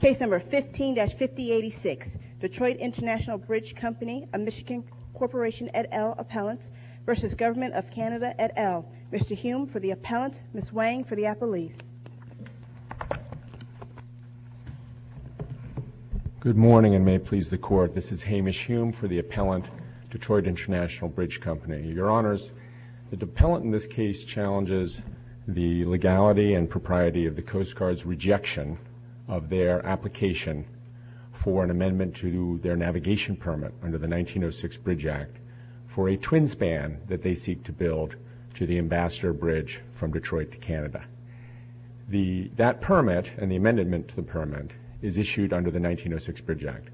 Case number 15-5086, Detroit International Bridge Company, a Michigan Corporation et al. appellant v. Government of Canada et al. Mr. Hume for the appellant, Ms. Wang for the appellee. Good morning and may it please the court. This is Hamish Hume for the appellant, Detroit International Bridge Company. Your Honors, the appellant in this case challenges the legality and propriety of the Coast Guard's rejection of their application for an amendment to their navigation permit under the 1906 Bridge Act for a twin span that they seek to build to the Ambassador Bridge from Detroit to Canada. That permit and the amendment to the permit is issued under the 1906 Bridge Act.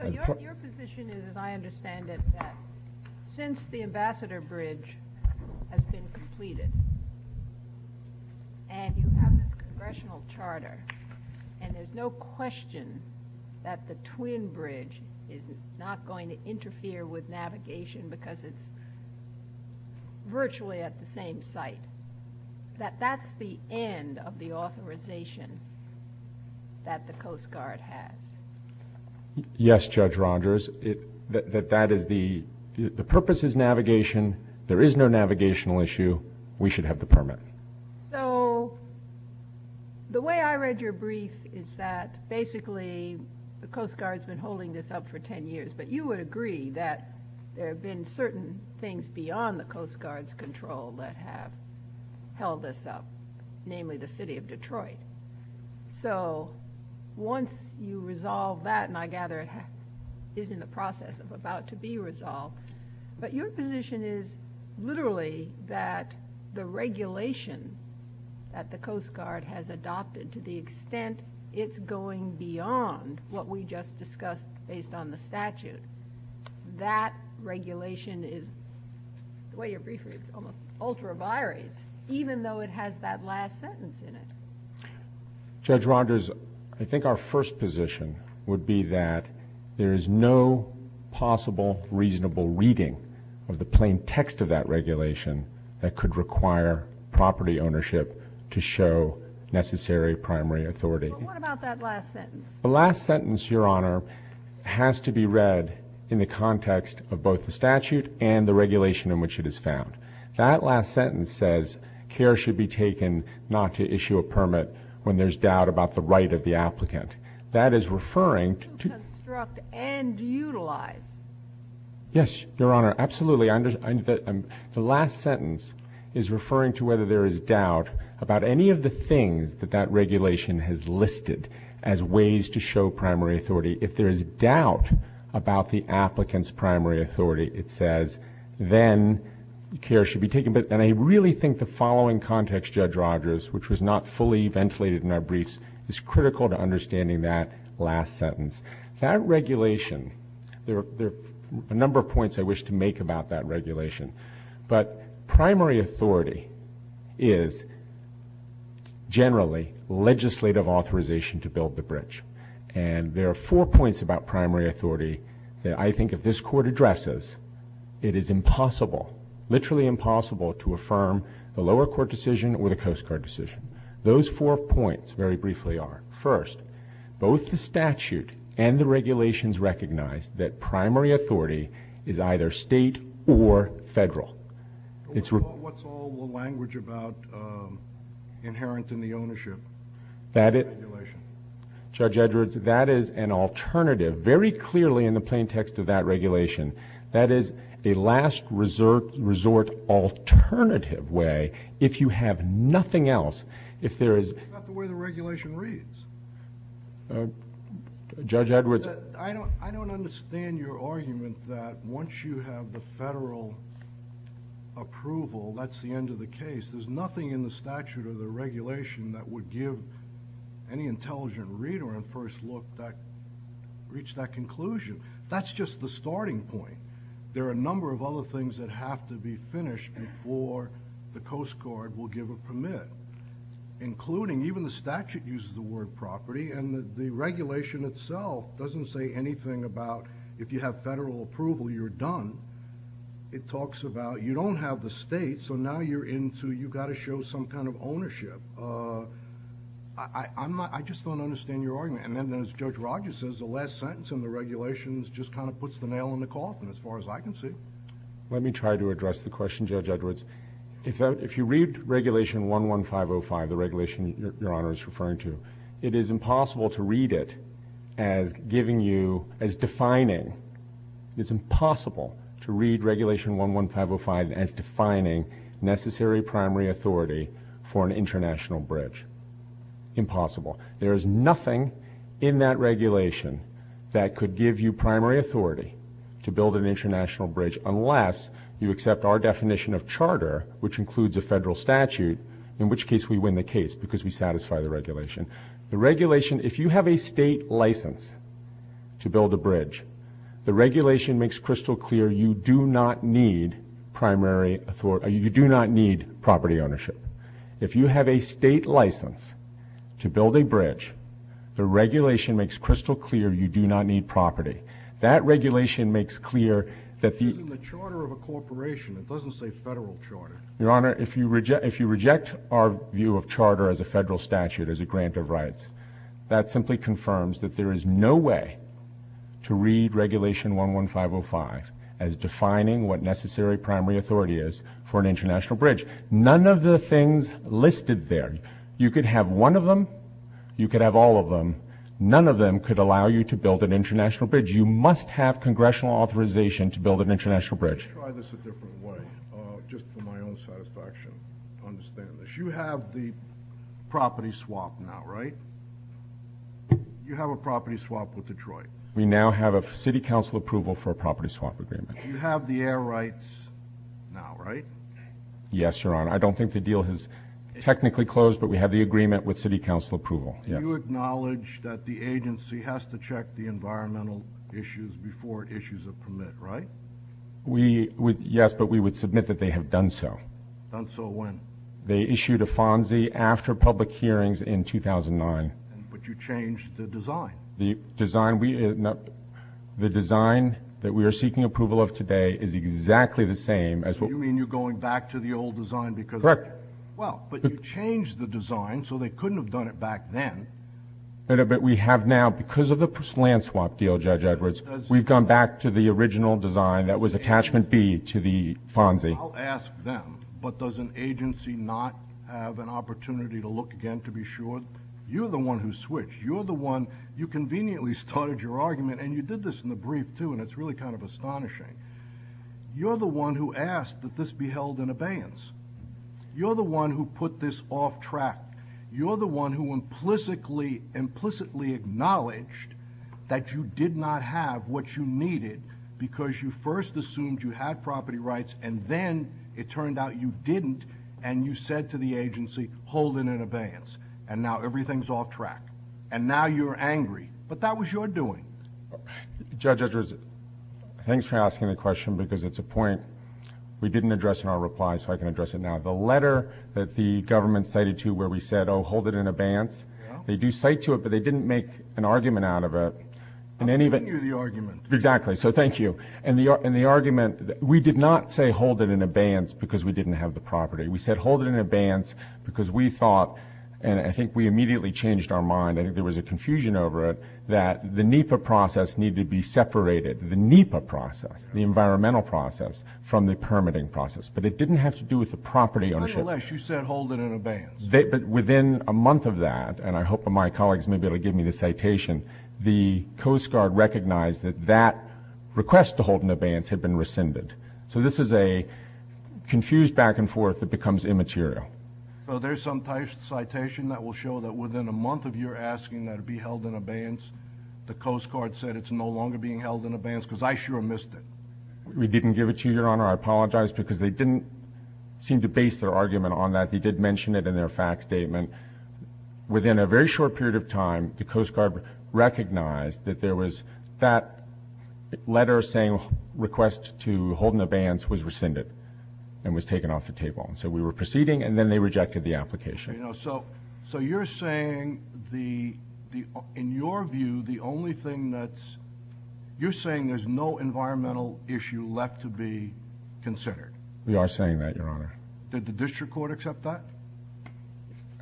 So your position is, as I understand it, that since the Ambassador Bridge has been completed and you have this congressional charter and there's no question that the twin bridge is not going to interfere with navigation because it's virtually at the same site, that that's the end of the authorization that the Coast Guard has? Yes, Judge Rogers. The purpose is navigation. There is no navigational issue. We should have the permit. So the way I read your brief is that basically the Coast Guard's been holding this up for 10 years, but you would agree that there have been certain things beyond the Coast Guard's control that have held this up, namely the city of Detroit. So once you resolve that, and I gather it is in the process of about to be resolved, but your position is literally that the regulation that the Coast Guard has adopted to the extent it's going beyond what we just discussed based on the statute, that regulation is, the way your brief is called, ultra-violated, even though it has that last sentence in it. Judge Rogers, I think our first position would be that there is no possible reasonable reading of the plain text of that regulation that could require property ownership to show necessary primary authority. What about that last sentence? The last sentence, Your Honor, has to be read in the context of both the statute and the regulation in which it is found. That last sentence says care should be taken not to issue a permit when there's doubt about the right of the applicant. That is referring to... To construct and utilize. Yes, Your Honor, absolutely. The last sentence is referring to whether there is doubt about any of the things that that regulation has listed as ways to show primary authority. If there is doubt about the applicant's primary authority, it says, then care should be taken. And I really think the following context, Judge Rogers, which was not fully ventilated in that brief, is critical to understanding that last sentence. That regulation, there are a number of points I wish to make about that regulation, but primary authority is generally legislative authorization to build the bridge. And there are four points about primary authority that I think if this court addresses, it is impossible, literally impossible, to affirm a lower court decision with a Coast Guard decision. Those four points, very briefly, are first, both the statute and the regulations recognize that primary authority is either state or federal. What's all the language about inherent in the ownership? Judge Edwards, that is an alternative, very clearly in the plain text of that regulation. That is a last resort alternative way, if you have nothing else, if there is... That's not the way the regulation reads. Judge Edwards... I don't understand your argument that once you have the federal approval, that's the end of the case. There's nothing in the statute or the regulation that would give any intelligent reader on first look that, reach that conclusion. That's just the starting point. There are a number of other things that have to be finished before the Coast Guard will give a permit. Including, even the statute uses the word property, and the regulation itself doesn't say anything about, if you have federal approval, you're done. It talks about, you don't have the state, so now you're into, you've got to show some kind of ownership. I just don't understand your argument. And then, as Judge Rogers says, the last sentence in the regulations just kind of puts the nail in the coffin, as far as I can see. Let me try to address the question, Judge Edwards. If you read Regulation 11505, the regulation that Your Honor is referring to, it is impossible to read it as giving you, as defining... It's impossible to read Regulation 11505 as defining necessary primary authority for an international bridge. Impossible. There is nothing in that regulation that could give you primary authority to build an international bridge, unless you accept our definition of charter, which includes a federal statute, in which case we win the case, because we satisfy the regulation. The regulation, if you have a state license to build a bridge, the regulation makes crystal clear you do not need primary authority. You do not need property ownership. If you have a state license to build a bridge, the regulation makes crystal clear you do not need property. That regulation makes clear that the... Using the charter of a corporation, it doesn't say federal charter. Your Honor, if you reject our view of charter as a federal statute, as a grant of rights, that simply confirms that there is no way to read Regulation 11505 as defining what necessary primary authority is for an international bridge. None of the things listed there. You could have one of them, you could have all of them. None of them could allow you to build an international bridge. You must have congressional authorization to build an international bridge. Let me try this a different way, just for my own satisfaction. Understand this. You have the property swap now, right? You have a property swap with Detroit. We now have a city council approval for a property swap agreement. You have the air rights now, right? Yes, Your Honor. I don't think the deal has technically closed, but we have the agreement with city council approval. You acknowledge that the agency has to check the environmental issues before it issues a permit, right? Yes, but we would submit that they have done so. Done so when? They issued a FONSI after public hearings in 2009. But you changed the design. The design that we are seeking approval of today is exactly the same as what... You mean you're going back to the old design because... Correct. Well, but you changed the design so they couldn't have done it back then. But we have now, because of the land swap deal, Judge Edwards, we've gone back to the original design that was attachment B to the FONSI. I'll ask them, but does an agency not have an opportunity to look again to be sure? You're the one who switched. You're the one, you conveniently started your argument, and you did this in the brief too, and it's really kind of astonishing. You're the one who asked that this be held in abeyance. You're the one who put this off track. You're the one who implicitly, implicitly acknowledged that you did not have what you needed because you first assumed you had property rights, and then it turned out you didn't, and you said to the agency, hold it in abeyance, and now everything's off track, and now you're angry, but that was your doing. Judge Edwards, thanks for asking the question because it's a point we didn't address in our reply, so I can address it now. The letter that the government cited to where we said, oh, hold it in abeyance, they do cite to it, but they didn't make an argument out of it. I didn't hear the argument. Exactly. So thank you. And the argument, we did not say hold it in abeyance because we didn't have the property. We said hold it in abeyance because we thought, and I think we immediately changed our mind, and there was a confusion over it, that the NEPA process needed to be separated, the NEPA process, the environmental process, from the permitting process, but it didn't have to do with the property ownership. But nonetheless, you said hold it in abeyance. But within a month of that, and I hope my colleagues may be able to give me the citation, the Coast Guard recognized that that request to hold it in abeyance had been rescinded. So this is a confused back and forth that becomes immaterial. There's some citation that will show that within a month of your asking that it be held in abeyance, the Coast Guard said it's no longer being held in abeyance because I sure missed it. We didn't give it to you, Your Honor. I apologize because they didn't seem to base their argument on that. They did mention it in their fact statement. Within a very short period of time, the Coast Guard recognized that there was that letter saying request to hold in abeyance was rescinded and was taken off the table. So we were proceeding, and then they rejected the application. So you're saying, in your view, the only thing that's—you're saying there's no environmental issue left to be considered? We are saying that, Your Honor. Did the district court accept that?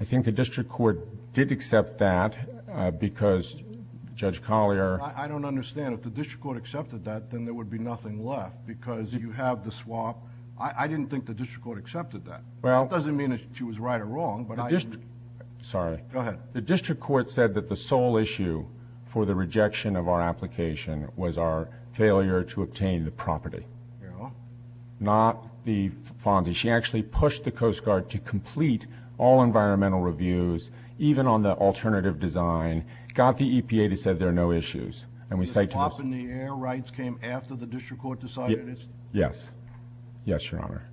I think the district court did accept that because Judge Collier— I don't understand. If the district court accepted that, then there would be nothing left because you have the swap. I didn't think the district court accepted that. That doesn't mean that she was right or wrong, but I— Sorry. Go ahead. The district court said that the sole issue for the rejection of our application was our failure to obtain the property, not the fault. She actually pushed the Coast Guard to complete all environmental reviews, even on the alternative design, got the EPA to say there are no issues. The swap in the air rights came after the district court decided it? Yes. Yes, Your Honor.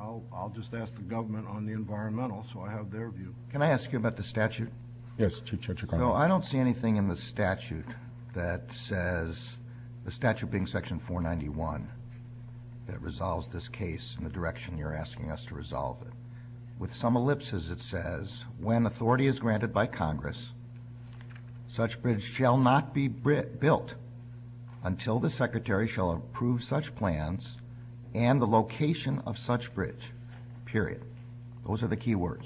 I'll just ask the government on the environmental, so I have their view. Can I ask you about the statute? Yes, Judge O'Connell. No, I don't see anything in the statute that says—the statute being Section 491 that resolves this case in the direction you're asking us to resolve it. With some ellipses, it says, when authority is granted by Congress, such bridge shall not be built until the secretary shall approve such plans and the location of such bridge, period. Those are the key words.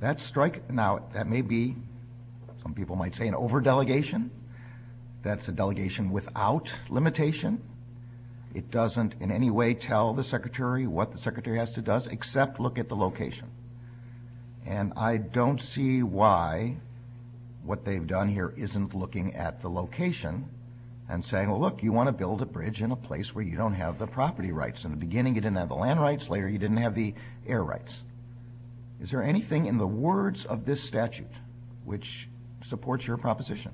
That strike—now, that may be, some people might say, an over-delegation. That's a delegation without limitation. It doesn't in any way tell the secretary what the secretary has to do, except look at the location. And I don't see why what they've done here isn't looking at the location and saying, well, look, you want to build a bridge in a place where you don't have the property rights. In the beginning, you didn't have the land rights. Later, you didn't have the air rights. Is there anything in the words of this statute which supports your proposition?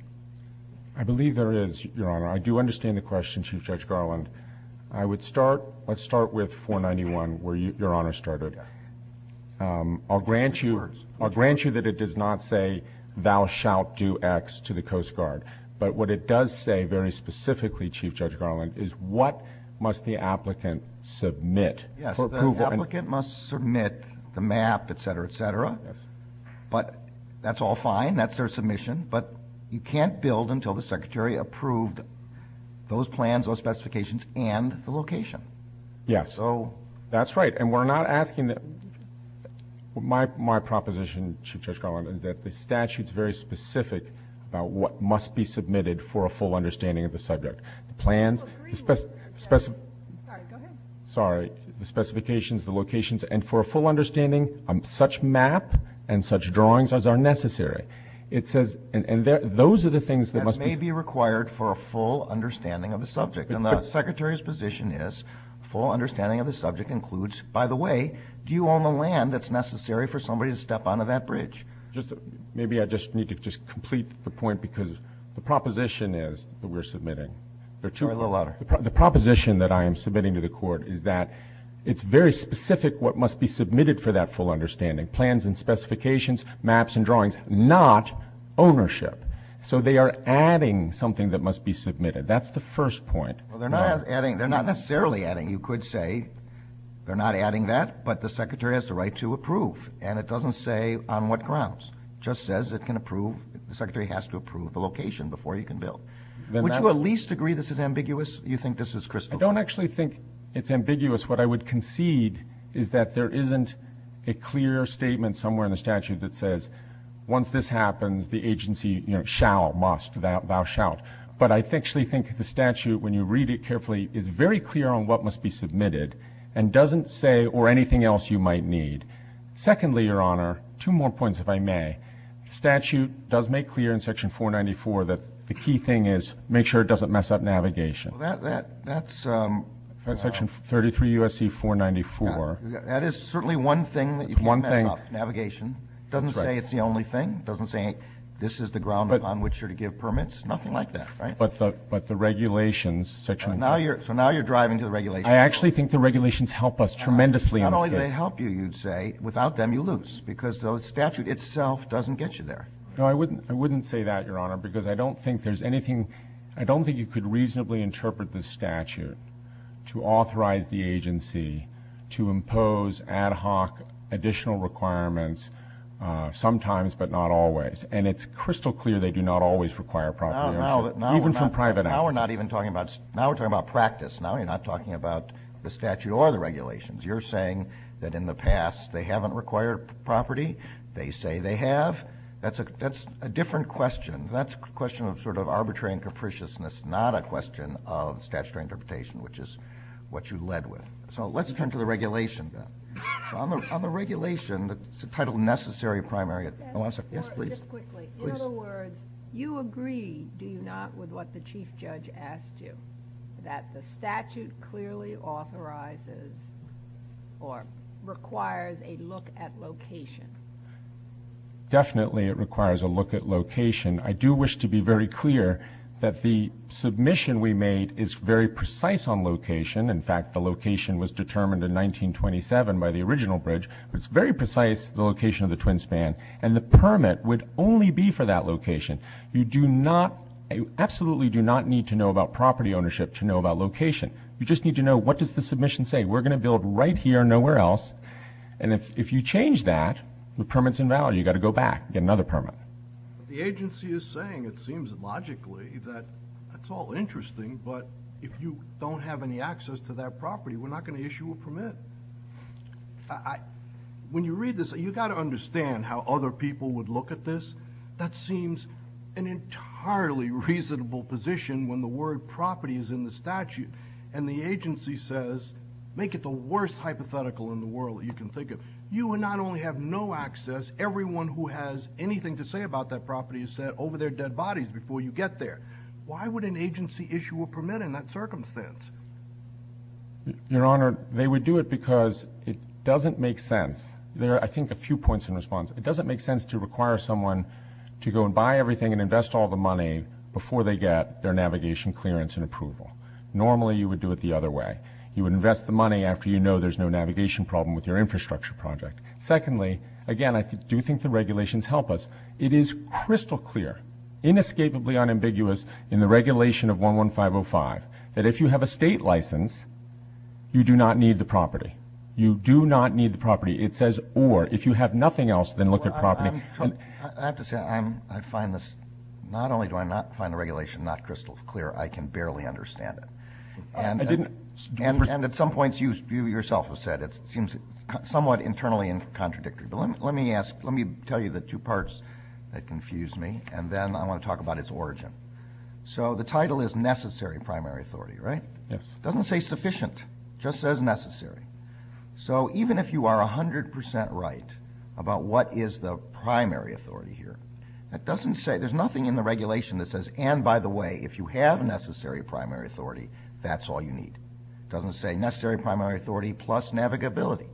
I believe there is, Your Honor. I do understand the question, Chief Judge Garland. I would start—let's start with 491, where Your Honor started. I'll grant you that it does not say, thou shalt do X to the Coast Guard. But what it does say very specifically, Chief Judge Garland, is what must the applicant submit for approval. Yes, the applicant must submit the map, et cetera, et cetera. But that's all fine. That's their submission. But you can't build until the secretary approved those plans, those specifications, and the location. Yes. So— That's right. And we're not asking—my proposition, Chief Judge Garland, is that the statute is very specific about what must be submitted for a full understanding of the subject. The plans— Oh, three words. Sorry, go ahead. Sorry. The specifications, the locations, and for a full understanding of such map and such drawings as are necessary. It says—and those are the things that must be— That may be required for a full understanding of the subject. And the secretary's position is, full understanding of the subject includes, by the way, do you own the land that's necessary for somebody to step onto that bridge? Just—maybe I just need to just complete the point, because the proposition is what we're submitting. Sorry, a little louder. The proposition that I am submitting to the Court is that it's very specific what must be submitted for that full understanding. Plans and specifications, maps and drawings, not ownership. So they are adding something that must be submitted. That's the first point. Well, they're not adding—they're not necessarily adding. You could say they're not adding that, but the secretary has the right to approve. And it doesn't say on what grounds. It just says it can approve—the secretary has to approve the location before he can build. Would you at least agree this is ambiguous? You think this is crystal clear? I don't actually think it's ambiguous. What I would concede is that there isn't a clear statement somewhere in the statute that says, once this happens, the agency shall, must, thou shalt. But I actually think the statute, when you read it carefully, is very clear on what must be submitted and doesn't say—or anything else you might need. Secondly, Your Honor, two more points, if I may. The statute does make clear in Section 494 that the key thing is make sure it doesn't mess up navigation. Well, that's— That's Section 33 U.S.C. 494. That is certainly one thing that you can mess up navigation. It doesn't say it's the only thing. It doesn't say this is the ground on which you're to give permits. Nothing like that, right? But the regulations, Section— So now you're driving to the regulations. I actually think the regulations help us tremendously. Not only do they help you, you'd say, without them you lose because the statute itself doesn't get you there. No, I wouldn't say that, Your Honor, because I don't think there's anything— to authorize the agency to impose ad hoc additional requirements, sometimes but not always. And it's crystal clear they do not always require proper— Now we're not even talking about—now we're talking about practice. Now we're not talking about the statute or the regulations. You're saying that in the past they haven't required property. They say they have. That's a different question. That's a question of sort of arbitrary and capriciousness, not a question of statutory interpretation, which is what you led with. So let's attend to the regulations. On the regulation, the title necessary primary— Yes, Your Honor, just quickly. In other words, you agree, do you not, with what the chief judge asked you, that the statute clearly authorizes or requires a look at location? Definitely it requires a look at location. I do wish to be very clear that the submission we made is very precise on location. In fact, the location was determined in 1927 by the original bridge. It's very precise, the location of the Twin Span. And the permit would only be for that location. You do not—you absolutely do not need to know about property ownership to know about location. You just need to know what does the submission say. We're going to build right here, nowhere else. And if you change that, the permit's invalid. You've got to go back, get another permit. The agency is saying, it seems logically, that it's all interesting, but if you don't have any access to that property, we're not going to issue a permit. When you read this, you've got to understand how other people would look at this. That seems an entirely reasonable position when the word property is in the statute, and the agency says, make it the worst hypothetical in the world you can think of. You will not only have no access, everyone who has anything to say about that property is set over their dead bodies before you get there. Why would an agency issue a permit in that circumstance? Your Honor, they would do it because it doesn't make sense. There are, I think, a few points in response. It doesn't make sense to require someone to go and buy everything and invest all the money before they get their navigation clearance and approval. Normally, you would do it the other way. You would invest the money after you know there's no navigation problem with your infrastructure project. Secondly, again, I do think the regulations help us. It is crystal clear, inescapably unambiguous in the regulation of 11505, that if you have a state license, you do not need the property. You do not need the property. It says, or, if you have nothing else, then look at property. I have to say, I find this, not only do I not find the regulation not crystal clear, I can barely understand it. And at some points you yourself have said it seems somewhat internally contradictory. But let me ask, let me tell you the two parts that confuse me, and then I want to talk about its origin. So the title is necessary primary authority, right? It doesn't say sufficient. It just says necessary. So even if you are 100% right about what is the primary authority here, it doesn't say, there's nothing in the regulation that says, and by the way, if you have necessary primary authority, that's all you need. It doesn't say necessary primary authority plus navigability.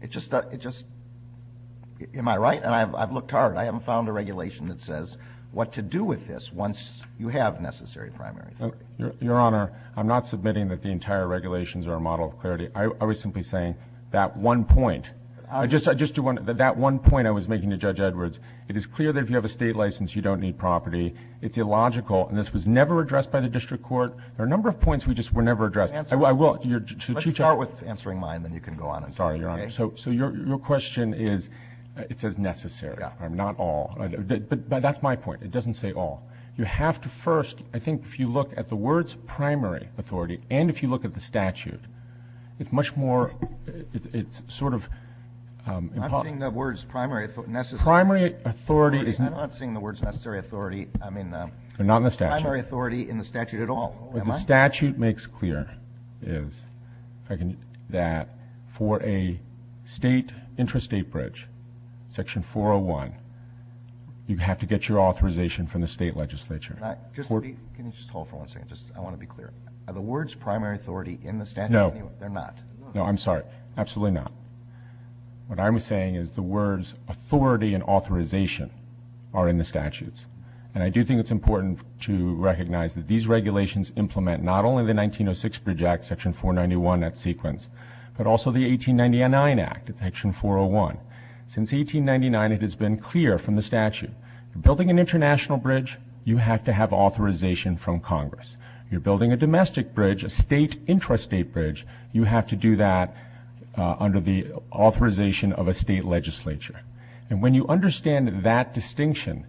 It just, am I right? And I've looked hard. I haven't found a regulation that says what to do with this once you have necessary primary authority. Your Honor, I'm not submitting that the entire regulations are a model of clarity. I was simply saying that one point, that one point I was making to Judge Edwards, it is clear that if you have a state license, you don't need property. It's illogical, and this was never addressed by the district court. There are a number of points we just were never addressed. Let's start with answering mine, then you can go on. I'm sorry, Your Honor. So your question is, it says necessary, not all. That's my point. It doesn't say all. You have to first, I think if you look at the words primary authority, and if you look at the statute, it's much more, it's sort of. I'm not seeing the words primary authority. Primary authority is not. I'm not seeing the words necessary authority. They're not in the statute. Primary authority in the statute at all. What the statute makes clear is that for a state intrastate bridge, section 401, you have to get your authorization from the state legislature. Can you just hold for one second? I want to be clear. Are the words primary authority in the statute? No. They're not? No, I'm sorry. Absolutely not. What I'm saying is the words authority and authorization are in the statutes. And I do think it's important to recognize that these regulations implement not only the 1906 Bridge Act, section 491, that sequence, but also the 1899 Act, section 401. Since 1899, it has been clear from the statute. You're building an international bridge, you have to have authorization from Congress. You're building a domestic bridge, a state intrastate bridge, you have to do that under the authorization of a state legislature. And when you understand that distinction,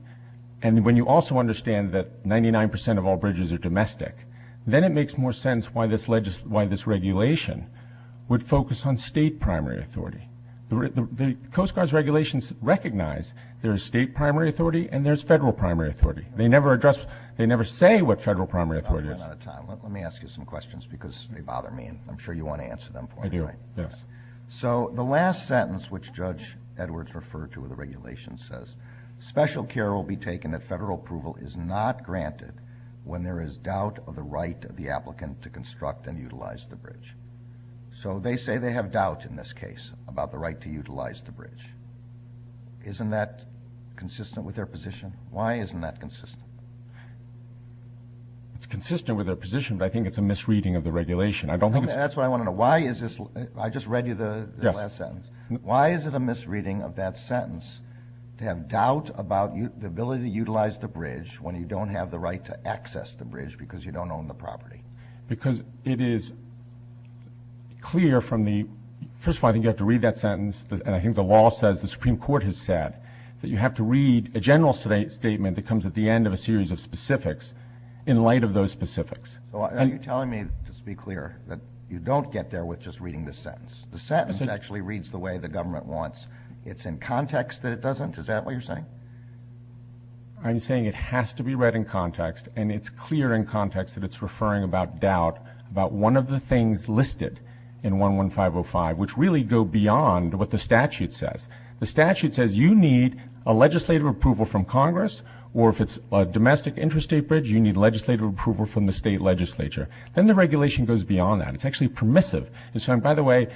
and when you also understand that 99% of all bridges are domestic, then it makes more sense why this regulation would focus on state primary authority. The Coast Guard's regulations recognize there's state primary authority and there's federal primary authority. They never say what federal primary authority is. Let me ask you some questions because they bother me. I'm sure you want to answer them for me. So the last sentence which Judge Edwards referred to in the regulation says, special care will be taken that federal approval is not granted when there is doubt of the right of the applicant to construct and utilize the bridge. So they say they have doubt in this case about the right to utilize the bridge. Isn't that consistent with their position? Why isn't that consistent? It's consistent with their position, but I think it's a misreading of the regulation. That's what I want to know. I just read you the last sentence. Why is it a misreading of that sentence to have doubt about the ability to utilize the bridge when you don't have the right to access the bridge because you don't own the property? Because it is clear from the first one, I think you have to read that sentence, and I think the law says, the Supreme Court has said, that you have to read a general statement that comes at the end of a series of specifics in light of those specifics. Are you telling me, just to be clear, that you don't get there with just reading this sentence? The sentence actually reads the way the government wants. It's in context that it doesn't? Is that what you're saying? I'm saying it has to be read in context, and it's clear in context that it's referring about doubt about one of the things listed in 11505, which really go beyond what the statute says. The statute says you need a legislative approval from Congress, or if it's a domestic interstate bridge, you need legislative approval from the state legislature. Then the regulation goes beyond that. It's actually permissive. By the way,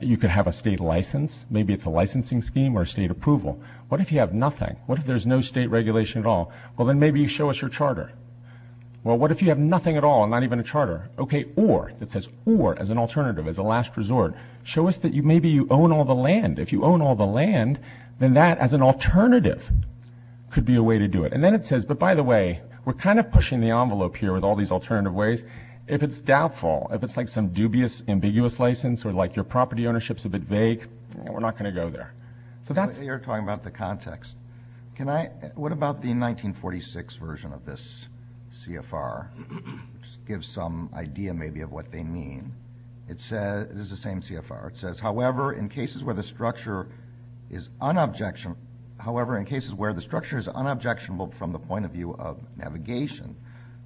you can have a state license. Maybe it's a licensing scheme or a state approval. What if you have nothing? What if there's no state regulation at all? Well, then maybe you show us your charter. Well, what if you have nothing at all, not even a charter? Okay, or. It says or as an alternative, as a last resort. Show us that maybe you own all the land. If you own all the land, then that as an alternative could be a way to do it. And then it says, but by the way, we're kind of pushing the envelope here with all these alternative ways. If it's doubtful, if it's like some dubious, ambiguous license, or like your property ownership's a bit vague, we're not going to go there. You're talking about the context. What about the 1946 version of this CFR? It gives some idea maybe of what they mean. It is the same CFR. It says, however, in cases where the structure is unobjectionable from the point of view of navigation,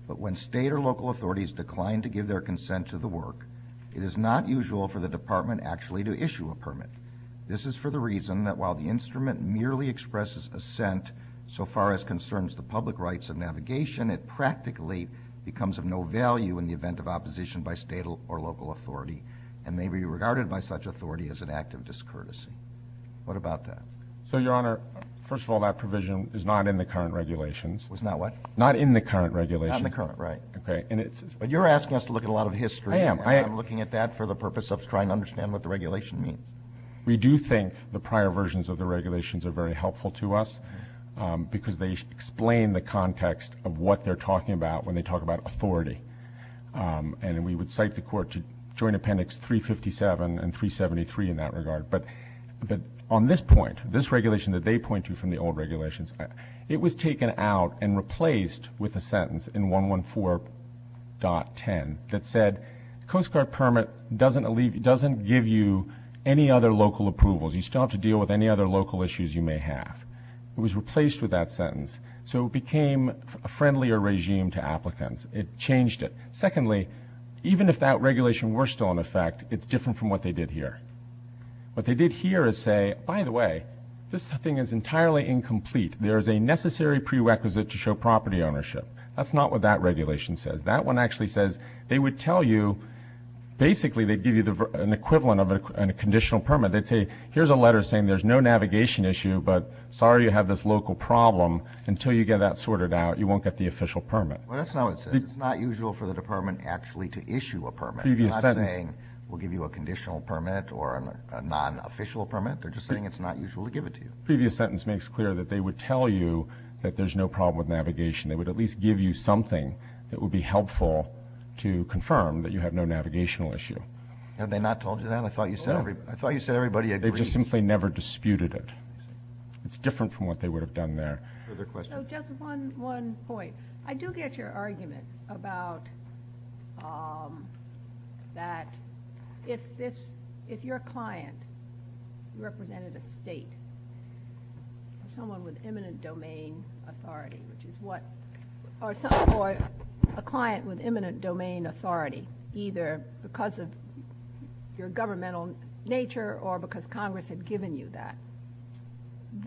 but when state or local authorities decline to give their consent to the work, it is not usual for the department actually to issue a permit. This is for the reason that while the instrument merely expresses assent so far as concerns the public rights of navigation, it practically becomes of no value in the event of opposition by state or local authority and may be regarded by such authority as an act of discourtesy. What about that? So, Your Honor, first of all, that provision is not in the current regulations. It's not what? Not in the current regulations. Not in the current, right. Okay. But you're asking us to look at a lot of history. I am. I am looking at that for the purpose of trying to understand what the regulation means. We do think the prior versions of the regulations are very helpful to us because they explain the context of what they're talking about when they talk about authority. And we would cite the court to Joint Appendix 357 and 373 in that regard. But on this point, this regulation that they point to from the old regulations, it was taken out and replaced with a sentence in 114.10 that said, Coast Guard permit doesn't give you any other local approvals. You still have to deal with any other local issues you may have. It was replaced with that sentence. So it became a friendlier regime to applicants. It changed it. Secondly, even if that regulation were still in effect, it's different from what they did here. What they did here is say, by the way, this thing is entirely incomplete. There is a necessary prerequisite to show property ownership. That's not what that regulation says. That one actually says they would tell you basically they'd give you an equivalent of a conditional permit. They'd say, here's a letter saying there's no navigation issue, but sorry you have this local problem. Until you get that sorted out, you won't get the official permit. Well, that's not what it says. It's not usual for the department actually to issue a permit. It's not saying we'll give you a conditional permit or a non-official permit. They're just saying it's not usual to give it to you. Previous sentence makes clear that they would tell you that there's no problem with navigation. They would at least give you something that would be helpful to confirm that you have no navigational issue. Had they not told you that? I thought you said everybody agrees. They just simply never disputed it. It's different from what they would have done there. Further questions? Just one point. I do get your argument about that if your client represented a state, someone with imminent domain authority, or a client with imminent domain authority, either because of your governmental nature or because Congress had given you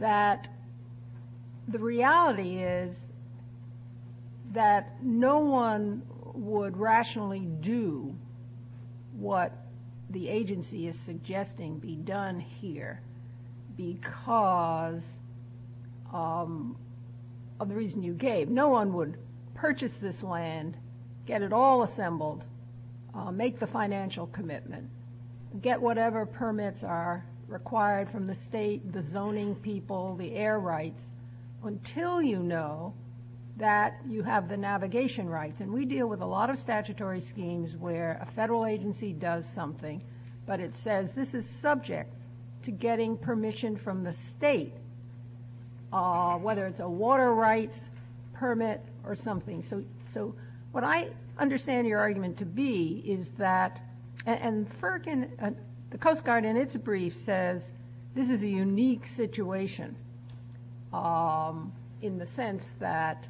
that, the reality is that no one would rationally do what the agency is suggesting be done here because of the reason you gave. No one would purchase this land, get it all assembled, make the financial commitment, get whatever permits are required from the state, the zoning people, the air rights, until you know that you have the navigation rights. And we deal with a lot of statutory schemes where a federal agency does something, but it says this is subject to getting permission from the state, whether it's a water rights permit or something. So what I understand your argument to be is that, and FERC and the Coast Guard in its brief says this is a unique situation in the sense that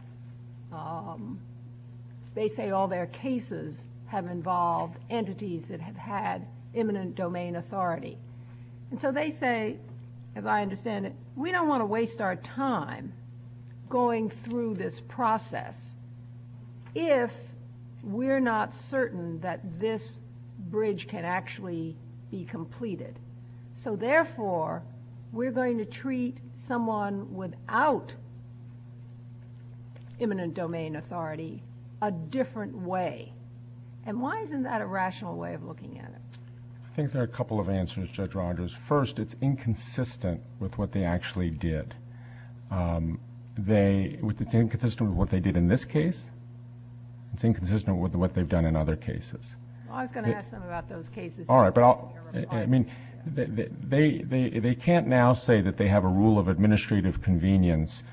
they say all their cases have involved entities that have had imminent domain authority. And so they say, as I understand it, we don't want to waste our time going through this process if we're not certain that this bridge can actually be completed. So therefore, we're going to treat someone without imminent domain authority a different way. And why isn't that a rational way of looking at it? I think there are a couple of answers, Judge Rogers. First, it's inconsistent with what they actually did. It's inconsistent with what they did in this case. It's inconsistent with what they've done in other cases. I was going to ask them about those cases. All right. They can't now say that they have a rule of administrative convenience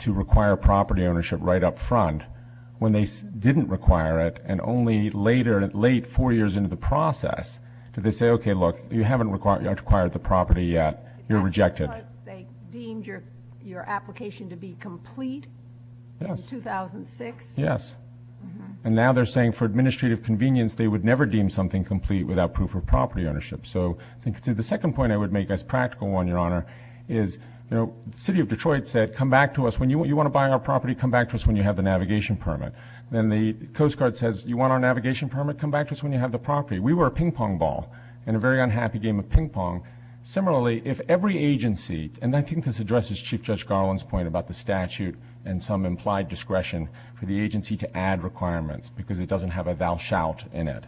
to require property ownership right up front when they didn't require it and only later, late four years into the process, did they say, okay, look, you haven't required the property yet. You're rejected. But they deemed your application to be complete in 2006. Yes. And now they're saying for administrative convenience, they would never deem something complete without proof of property ownership. So the second point I would make that's practical, Your Honor, is the city of Detroit said, come back to us. When you want to buy our property, come back to us when you have the navigation permit. Then the Coast Guard says, you want our navigation permit? Come back to us when you have the property. We were a ping-pong ball and a very unhappy game of ping-pong. Similarly, if every agency, and I think this addresses Chief Judge Garland's point about the statute and some implied discretion for the agency to add requirements because it doesn't have a vouch out in it.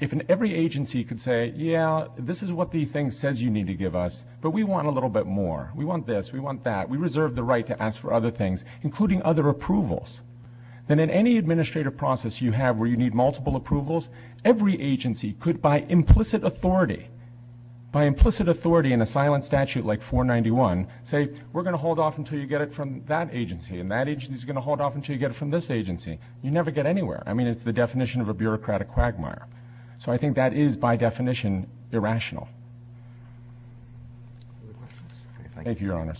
If every agency could say, yeah, this is what the thing says you need to give us, but we want a little bit more. We want this. We want that. We reserve the right to ask for other things, including other approvals. Then in any administrative process you have where you need multiple approvals, every agency could, by implicit authority, by implicit authority in a silent statute like 491, say, we're going to hold off until you get it from that agency, and that agency is going to hold off until you get it from this agency. You never get anywhere. I mean, it's the definition of a bureaucratic quagmire. So I think that is, by definition, irrational. Thank you, Your Honors.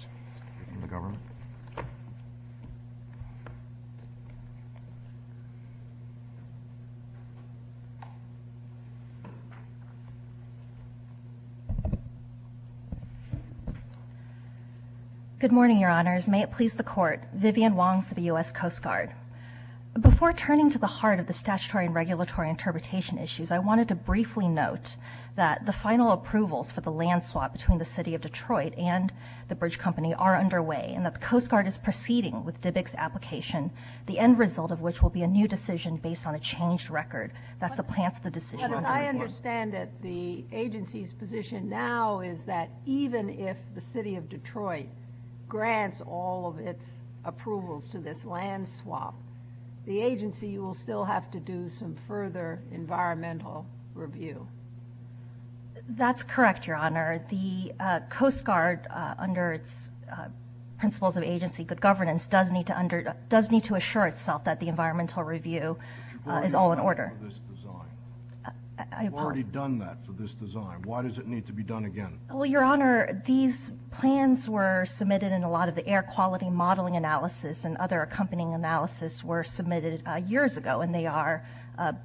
Good morning, Your Honors. May it please the Court. Vivian Wong for the U.S. Coast Guard. Before turning to the heart of the statutory and regulatory interpretation issues, I wanted to briefly note that the final approvals for the land swap between the City of Detroit and the bridge company are underway, and that the Coast Guard is proceeding with DBIC's application, the end result of which will be a new decision based on a changed record. That's the plan for the decision. But as I understand it, the agency's position now is that even if the City of Detroit grants all of its approvals to this land swap, the agency will still have to do some further environmental review. That's correct, Your Honor. The Coast Guard, under its principles of agency good governance, does need to assure itself that the environmental review is all in order. Why have you done that for this design? I've already done that for this design. Why does it need to be done again? Well, Your Honor, these plans were submitted in a lot of the air quality modeling analysis and other accompanying analysis were submitted years ago, and they are,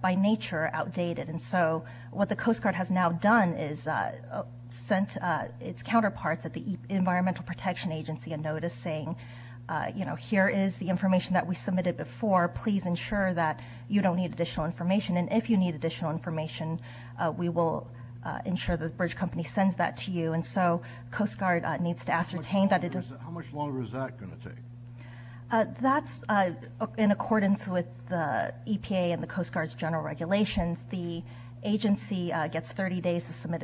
by nature, outdated. And so what the Coast Guard has now done is sent its counterparts at the Environmental Protection Agency a notice saying, you know, here is the information that we submitted before. Please ensure that you don't need additional information. And if you need additional information, we will ensure the bridge company sends that to you. And so Coast Guard needs to ascertain that it is. How much longer is that going to take? That's in accordance with the EPA and the Coast Guard's general regulations. The agency gets 30 days to submit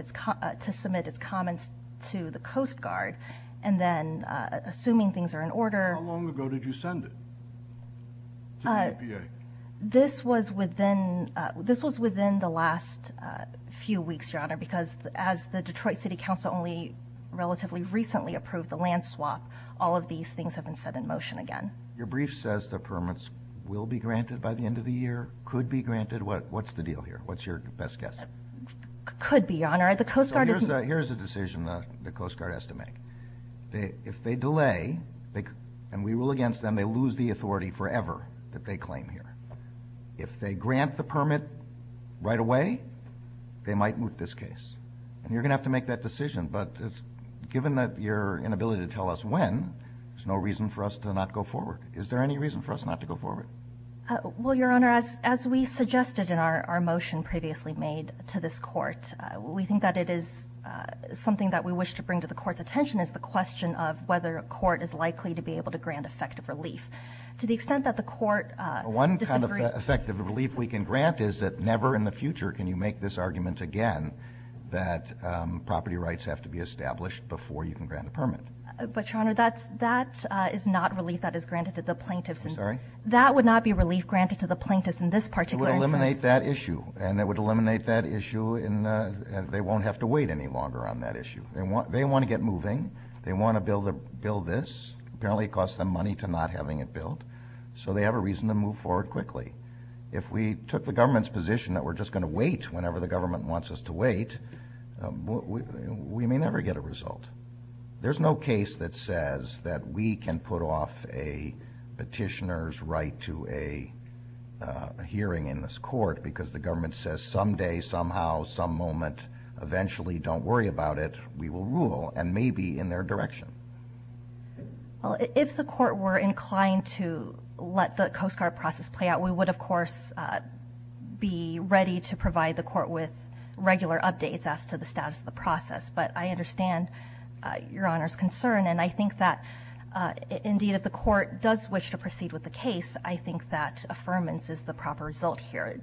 its comments to the Coast Guard. And then, assuming things are in order. How long ago did you send it to the EPA? This was within the last few weeks, Your Honor, because as the Detroit City Council only relatively recently approved the land swap, all of these things have been set in motion again. Your brief says the permits will be granted by the end of the year, could be granted. What's the deal here? What's your best guess? Could be, Your Honor. Here's a decision the Coast Guard has to make. If they delay, and we rule against them, they lose the authority forever that they claim here. If they grant the permit right away, they might move this case. And you're going to have to make that decision. But given that you're inability to tell us when, there's no reason for us to not go forward. Is there any reason for us not to go forward? Well, Your Honor, as we suggested in our motion previously made to this court, we think that it is something that we wish to bring to the court's attention is the question of whether a court is likely to be able to grant effective relief. To the extent that the court disagrees. One kind of effective relief we can grant is that never in the future can you make this argument again that property rights have to be established before you can grant a permit. But, Your Honor, that is not relief that is granted to the plaintiff. I'm sorry? That would not be relief granted to the plaintiff in this particular instance. It would eliminate that issue. And it would eliminate that issue, and they won't have to wait any longer on that issue. They want to get moving. They want to build this. Apparently it costs them money to not having it built, so they have a reason to move forward quickly. If we took the government's position that we're just going to wait whenever the government wants us to wait, we may never get a result. There's no case that says that we can put off a petitioner's right to a hearing in this court because the government says someday, somehow, some moment, eventually, don't worry about it. We will rule and may be in their direction. If the court were inclined to let the Coast Guard process play out, we would, of course, be ready to provide the court with regular updates as to the status of the process. But I understand Your Honor's concern, and I think that, indeed, if the court does wish to proceed with the case, I think that affirmance is the proper result here.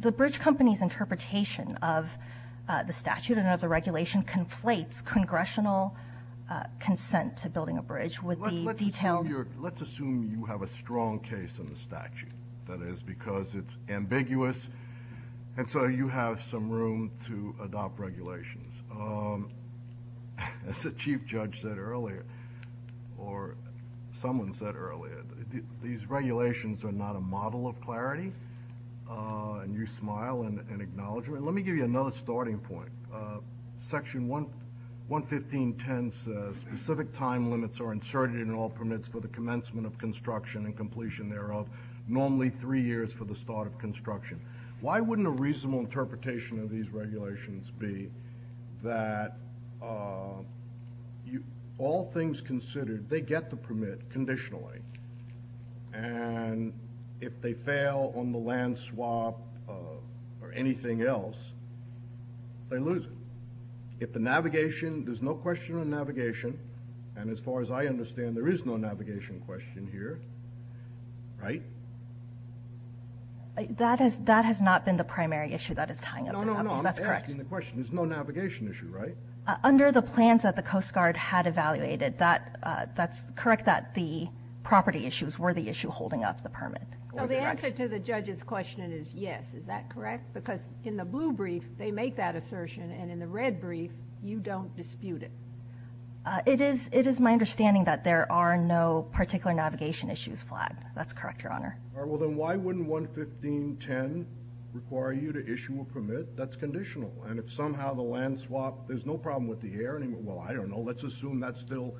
The bridge company's interpretation of the statute and of the regulation conflates congressional consent to building a bridge with the detailed- Let's assume you have a strong case in the statute, that is, because it's ambiguous, and so you have some room to adopt regulations. As the chief judge said earlier, or someone said earlier, these regulations are not a model of clarity, and you smile in acknowledgment. Let me give you another starting point. Section 115.10 says, Specific time limits are inserted in all permits for the commencement of construction and completion thereof, normally three years for the start of construction. Why wouldn't a reasonable interpretation of these regulations be that all things considered, they get the permit conditionally, and if they fail on the land swap or anything else, they lose it? If the navigation, there's no question on navigation, and as far as I understand, there is no navigation question here, right? That has not been the primary issue that is tying up- No, no, no, I'm asking the question. There's no navigation issue, right? Under the plans that the Coast Guard had evaluated, that's correct that the property issues were the issue holding up the permit. The answer to the judge's question is yes. Is that correct? Because in the blue brief, they make that assertion, and in the red brief, you don't dispute it. It is my understanding that there are no particular navigation issues flagged. That's correct, Your Honor. Then why wouldn't 115.10 require you to issue a permit that's conditional, and if somehow the land swap, there's no problem with the air anymore? Well, I don't know. Let's assume that's still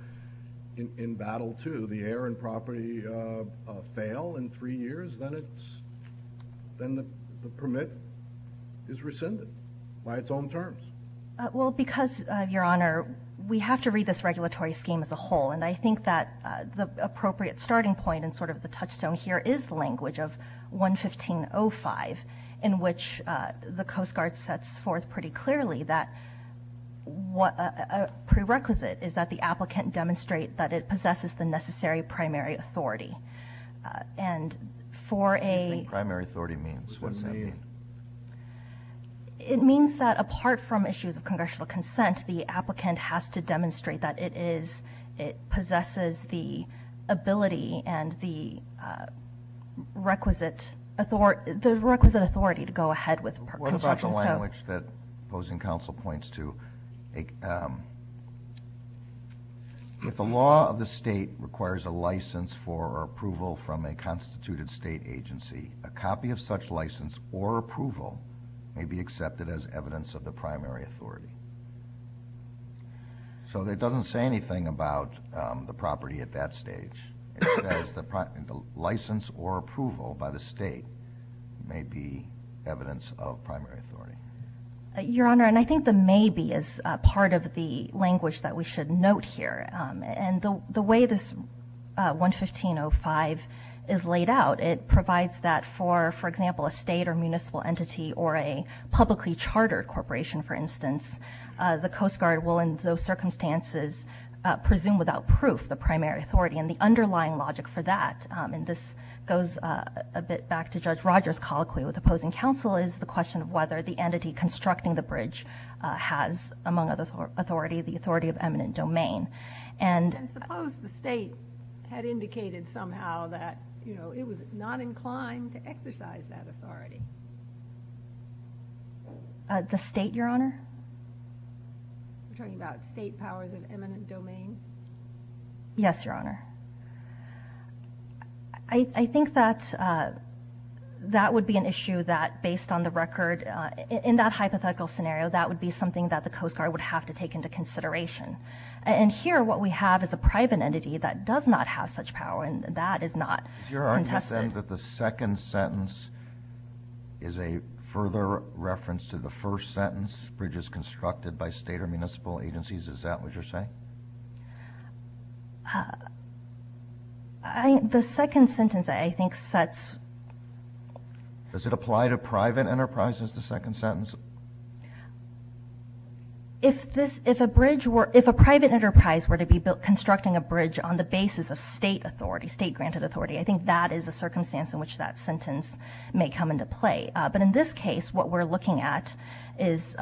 in battle, too. The air and property fail in three years, then the permit is rescinded by its own terms. Well, because, Your Honor, we have to read this regulatory scheme as a whole, and I think that the appropriate starting point and sort of the touchstone here is the language of 115.05 in which the Coast Guard sets forth pretty clearly that a prerequisite is that the applicant demonstrate that it possesses the necessary primary authority. And for a— What do you think primary authority means? It means that apart from issues of congressional consent, the applicant has to demonstrate that it possesses the ability and the requisite authority. The requisite authority to go ahead with— What about the language that opposing counsel points to? If the law of the state requires a license for approval from a constituted state agency, a copy of such license or approval may be accepted as evidence of the primary authority. So it doesn't say anything about the property at that stage. It says the license or approval by the state may be evidence of primary authority. Your Honor, and I think the maybe is part of the language that we should note here. And the way this 115.05 is laid out, it provides that for, for example, a state or municipal entity or a publicly chartered corporation, for instance, the Coast Guard will in those circumstances presume without proof the primary authority and the underlying logic for that. And this goes a bit back to Judge Rogers' colloquy with opposing counsel is the question of whether the entity constructing the bridge has, among other authority, the authority of eminent domain. And— Suppose the state had indicated somehow that, you know, it was not inclined to exercise that authority. The state, Your Honor? I'm talking about state powers of eminent domain. Yes, Your Honor. I think that that would be an issue that, based on the record, in that hypothetical scenario, that would be something that the Coast Guard would have to take into consideration. And here what we have is a private entity that does not have such power, and that is not— Your Honor, you said that the second sentence is a further reference to the first sentence, bridges constructed by state or municipal agencies. Is that what you're saying? The second sentence, I think, sets— Does it apply to private enterprises, the second sentence? If a private enterprise were to be constructing a bridge on the basis of state authority, I think that is a circumstance in which that sentence may come into play. But in this case, what we're looking at is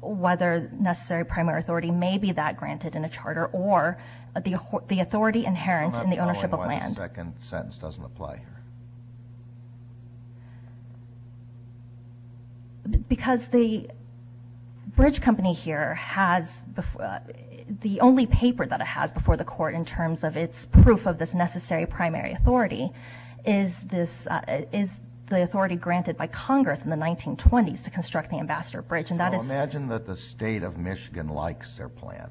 whether necessary primary authority may be that granted in a charter or the authority inherent in the ownership of land. I'm not sure why the second sentence doesn't apply here. Because the bridge company here has the only paper that it has before the court in terms of its proof of this necessary primary authority. Is the authority granted by Congress in the 1920s to construct the Ambassador Bridge, and that is— Well, imagine that the state of Michigan likes their plan,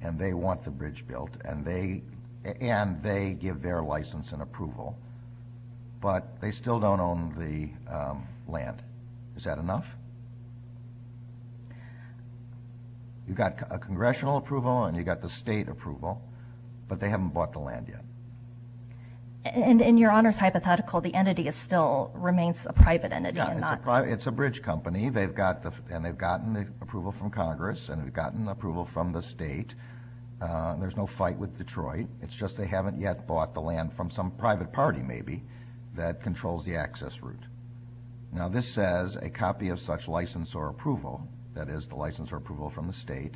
and they want the bridge built, and they give their license and approval, but they still don't own the land. Is that enough? You've got a congressional approval, and you've got the state approval, but they haven't bought the land yet. In your Honor's hypothetical, the entity still remains a private entity. It's a bridge company, and they've gotten approval from Congress, and they've gotten approval from the state. There's no fight with Detroit. It's just they haven't yet bought the land from some private party, maybe, that controls the access route. Now, this says a copy of such license or approval, that is the license or approval from the state,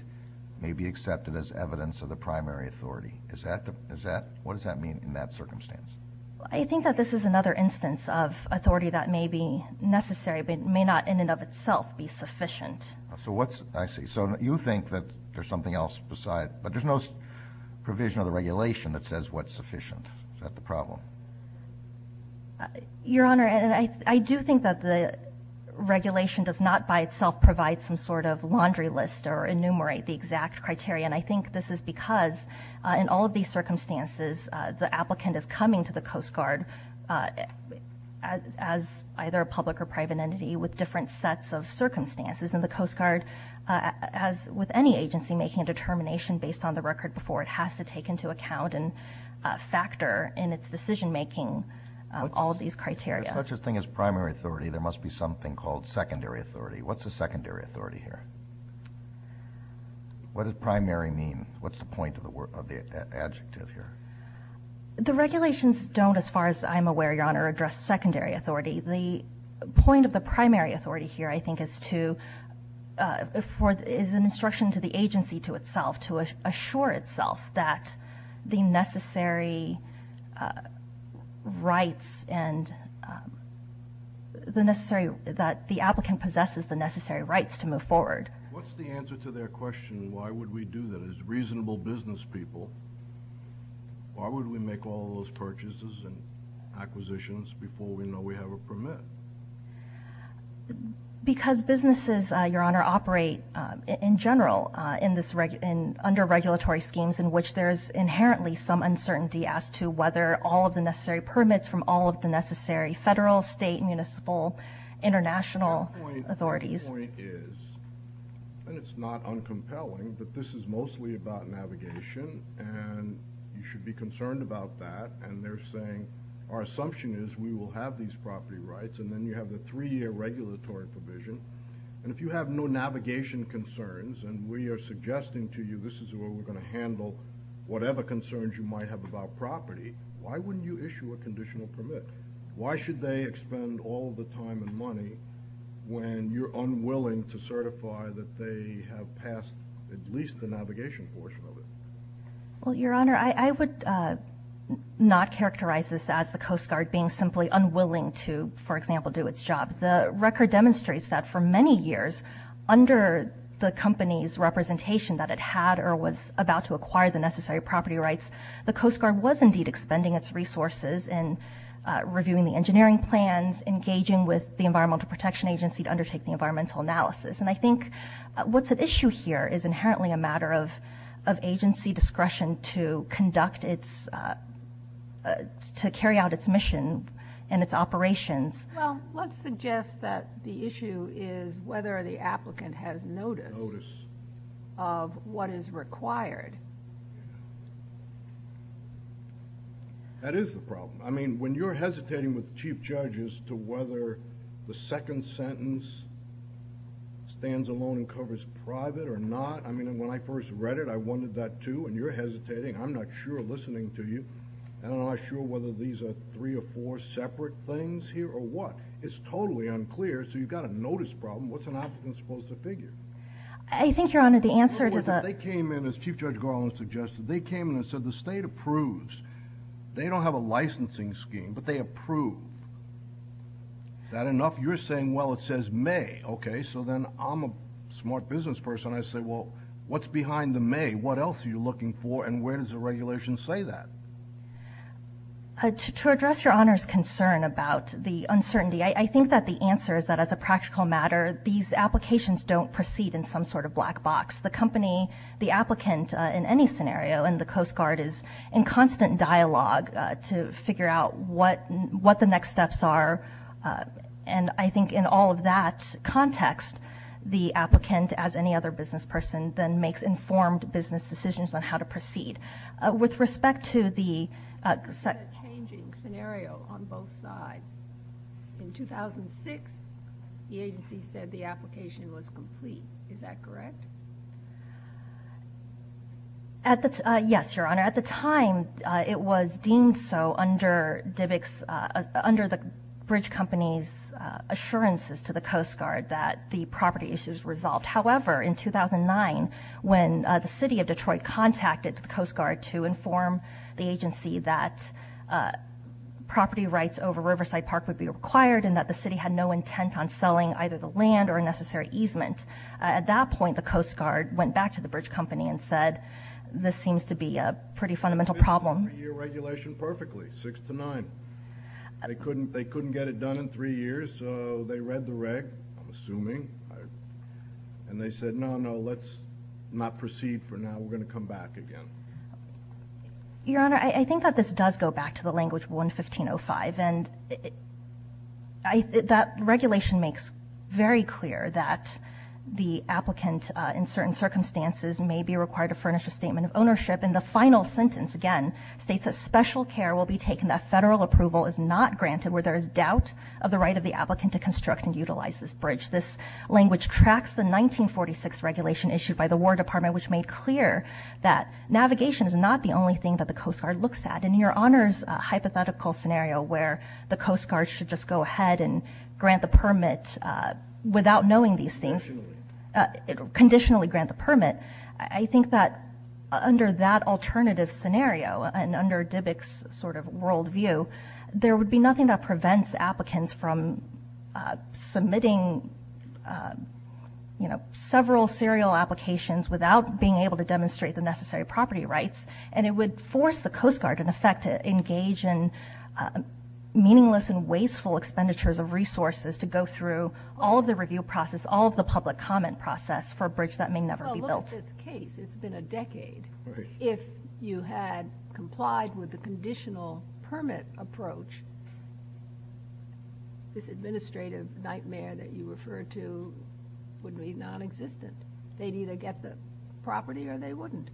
may be accepted as evidence of the primary authority. What does that mean in that circumstance? I think that this is another instance of authority that may be necessary, but may not in and of itself be sufficient. I see. So you think that there's something else beside it. But there's no provision of the regulation that says what's sufficient. Is that the problem? Your Honor, I do think that the regulation does not by itself provide some sort of laundry list or enumerate the exact criteria, and I think this is because in all of these circumstances, the applicant is coming to the Coast Guard as either a public or private entity with different sets of circumstances. And the Coast Guard, as with any agency, is going to be making a determination based on the record before it has to take into account and factor in its decision-making all of these criteria. As such a thing as primary authority, there must be something called secondary authority. What's a secondary authority here? What does primary mean? What's the point of the adjective here? The regulations don't, as far as I'm aware, Your Honor, address secondary authority. The point of the primary authority here, I think, is an instruction to the agency to itself to assure itself that the applicant possesses the necessary rights to move forward. What's the answer to their question, why would we do that? As reasonable business people, why would we make all of those purchases and acquisitions before we know we have a permit? Because businesses, Your Honor, operate in general under regulatory schemes in which there is inherently some uncertainty as to whether all of the necessary permits from all of the necessary federal, state, municipal, international authorities. My point is, and it's not uncompelling, that this is mostly about navigation, and you should be concerned about that. And they're saying, our assumption is we will have these property rights, and then you have a three-year regulatory provision. And if you have no navigation concerns, and we are suggesting to you this is where we're going to handle whatever concerns you might have about property, why wouldn't you issue a conditional permit? Why should they expend all the time and money when you're unwilling to certify that they have passed at least the navigation portion of it? Well, Your Honor, I would not characterize this as the Coast Guard being simply unwilling to, for example, do its job. The record demonstrates that for many years, under the company's representation that it had or was about to acquire the necessary property rights, the Coast Guard was indeed expending its resources in reviewing the engineering plans, engaging with the Environmental Protection Agency to undertake the environmental analysis. And I think what's at issue here is inherently a matter of agency discretion to conduct its – to carry out its mission and its operations. Well, let's suggest that the issue is whether the applicant has notice of what is required. That is the problem. I mean, when you're hesitating with the Chief Judge as to whether the second sentence stands alone and covers private or not. I mean, when I first read it, I wondered that too, and you're hesitating. I'm not sure listening to you. I'm not sure whether these are three or four separate things here or what. It's totally unclear, so you've got a notice problem. What's an applicant supposed to figure? I think, Your Honor, the answer to that – Well, they came in, as Chief Judge Garland suggested, they came in and said the state approves. They don't have a licensing scheme, but they approve. Is that enough? You're saying, well, it says may. Okay, so then I'm a smart business person. I say, well, what's behind the may? What else are you looking for, and where does the regulation say that? To address Your Honor's concern about the uncertainty, I think that the answer is that as a practical matter, these applications don't proceed in some sort of black box. The company, the applicant, in any scenario in the Coast Guard, is in constant dialogue to figure out what the next steps are, and I think in all of that context, the applicant, as any other business person, then makes informed business decisions on how to proceed. With respect to the changing scenario on both sides, in 2006, the agency said the application was complete. Is that correct? Yes, Your Honor. At the time, it was deemed so under the bridge company's assurances to the Coast Guard that the property issues were resolved. However, in 2009, when the city of Detroit contacted the Coast Guard to inform the agency that property rights over Riverside Park would be required and that the city had no intent on selling either the land or a necessary easement, at that point, the Coast Guard went back to the bridge company and said, this seems to be a pretty fundamental problem. They did the three-year regulation perfectly, six to nine. They couldn't get it done in three years, so they read the reg, I'm assuming, and they said, no, no, let's not proceed for now. We're going to come back again. Your Honor, I think that this does go back to the language of 115.05, and that regulation makes very clear that the applicant, in certain circumstances, may be required to furnish a statement of ownership. In the final sentence, again, states that special care will be taken, that federal approval is not granted, where there is doubt of the right of the applicant to construct and utilize this bridge. This language tracks the 1946 regulation issued by the War Department, which made clear that navigation is not the only thing that the Coast Guard looks at. And in Your Honor's hypothetical scenario, where the Coast Guard should just go ahead and grant the permit without knowing these things, conditionally grant the permit, I think that under that alternative scenario, and under DBIC's sort of worldview, there would be nothing that prevents applicants from submitting several serial applications without being able to demonstrate the necessary property rights, and it would force the Coast Guard, in effect, to engage in meaningless and wasteful expenditures of resources to go through all of the review process, all of the public comment process for a bridge that may never be built. Well, look at this case. It's been a decade. If you had complied with the conditional permit approach, this administrative nightmare that you refer to would be non-existent. They'd either get the property or they wouldn't.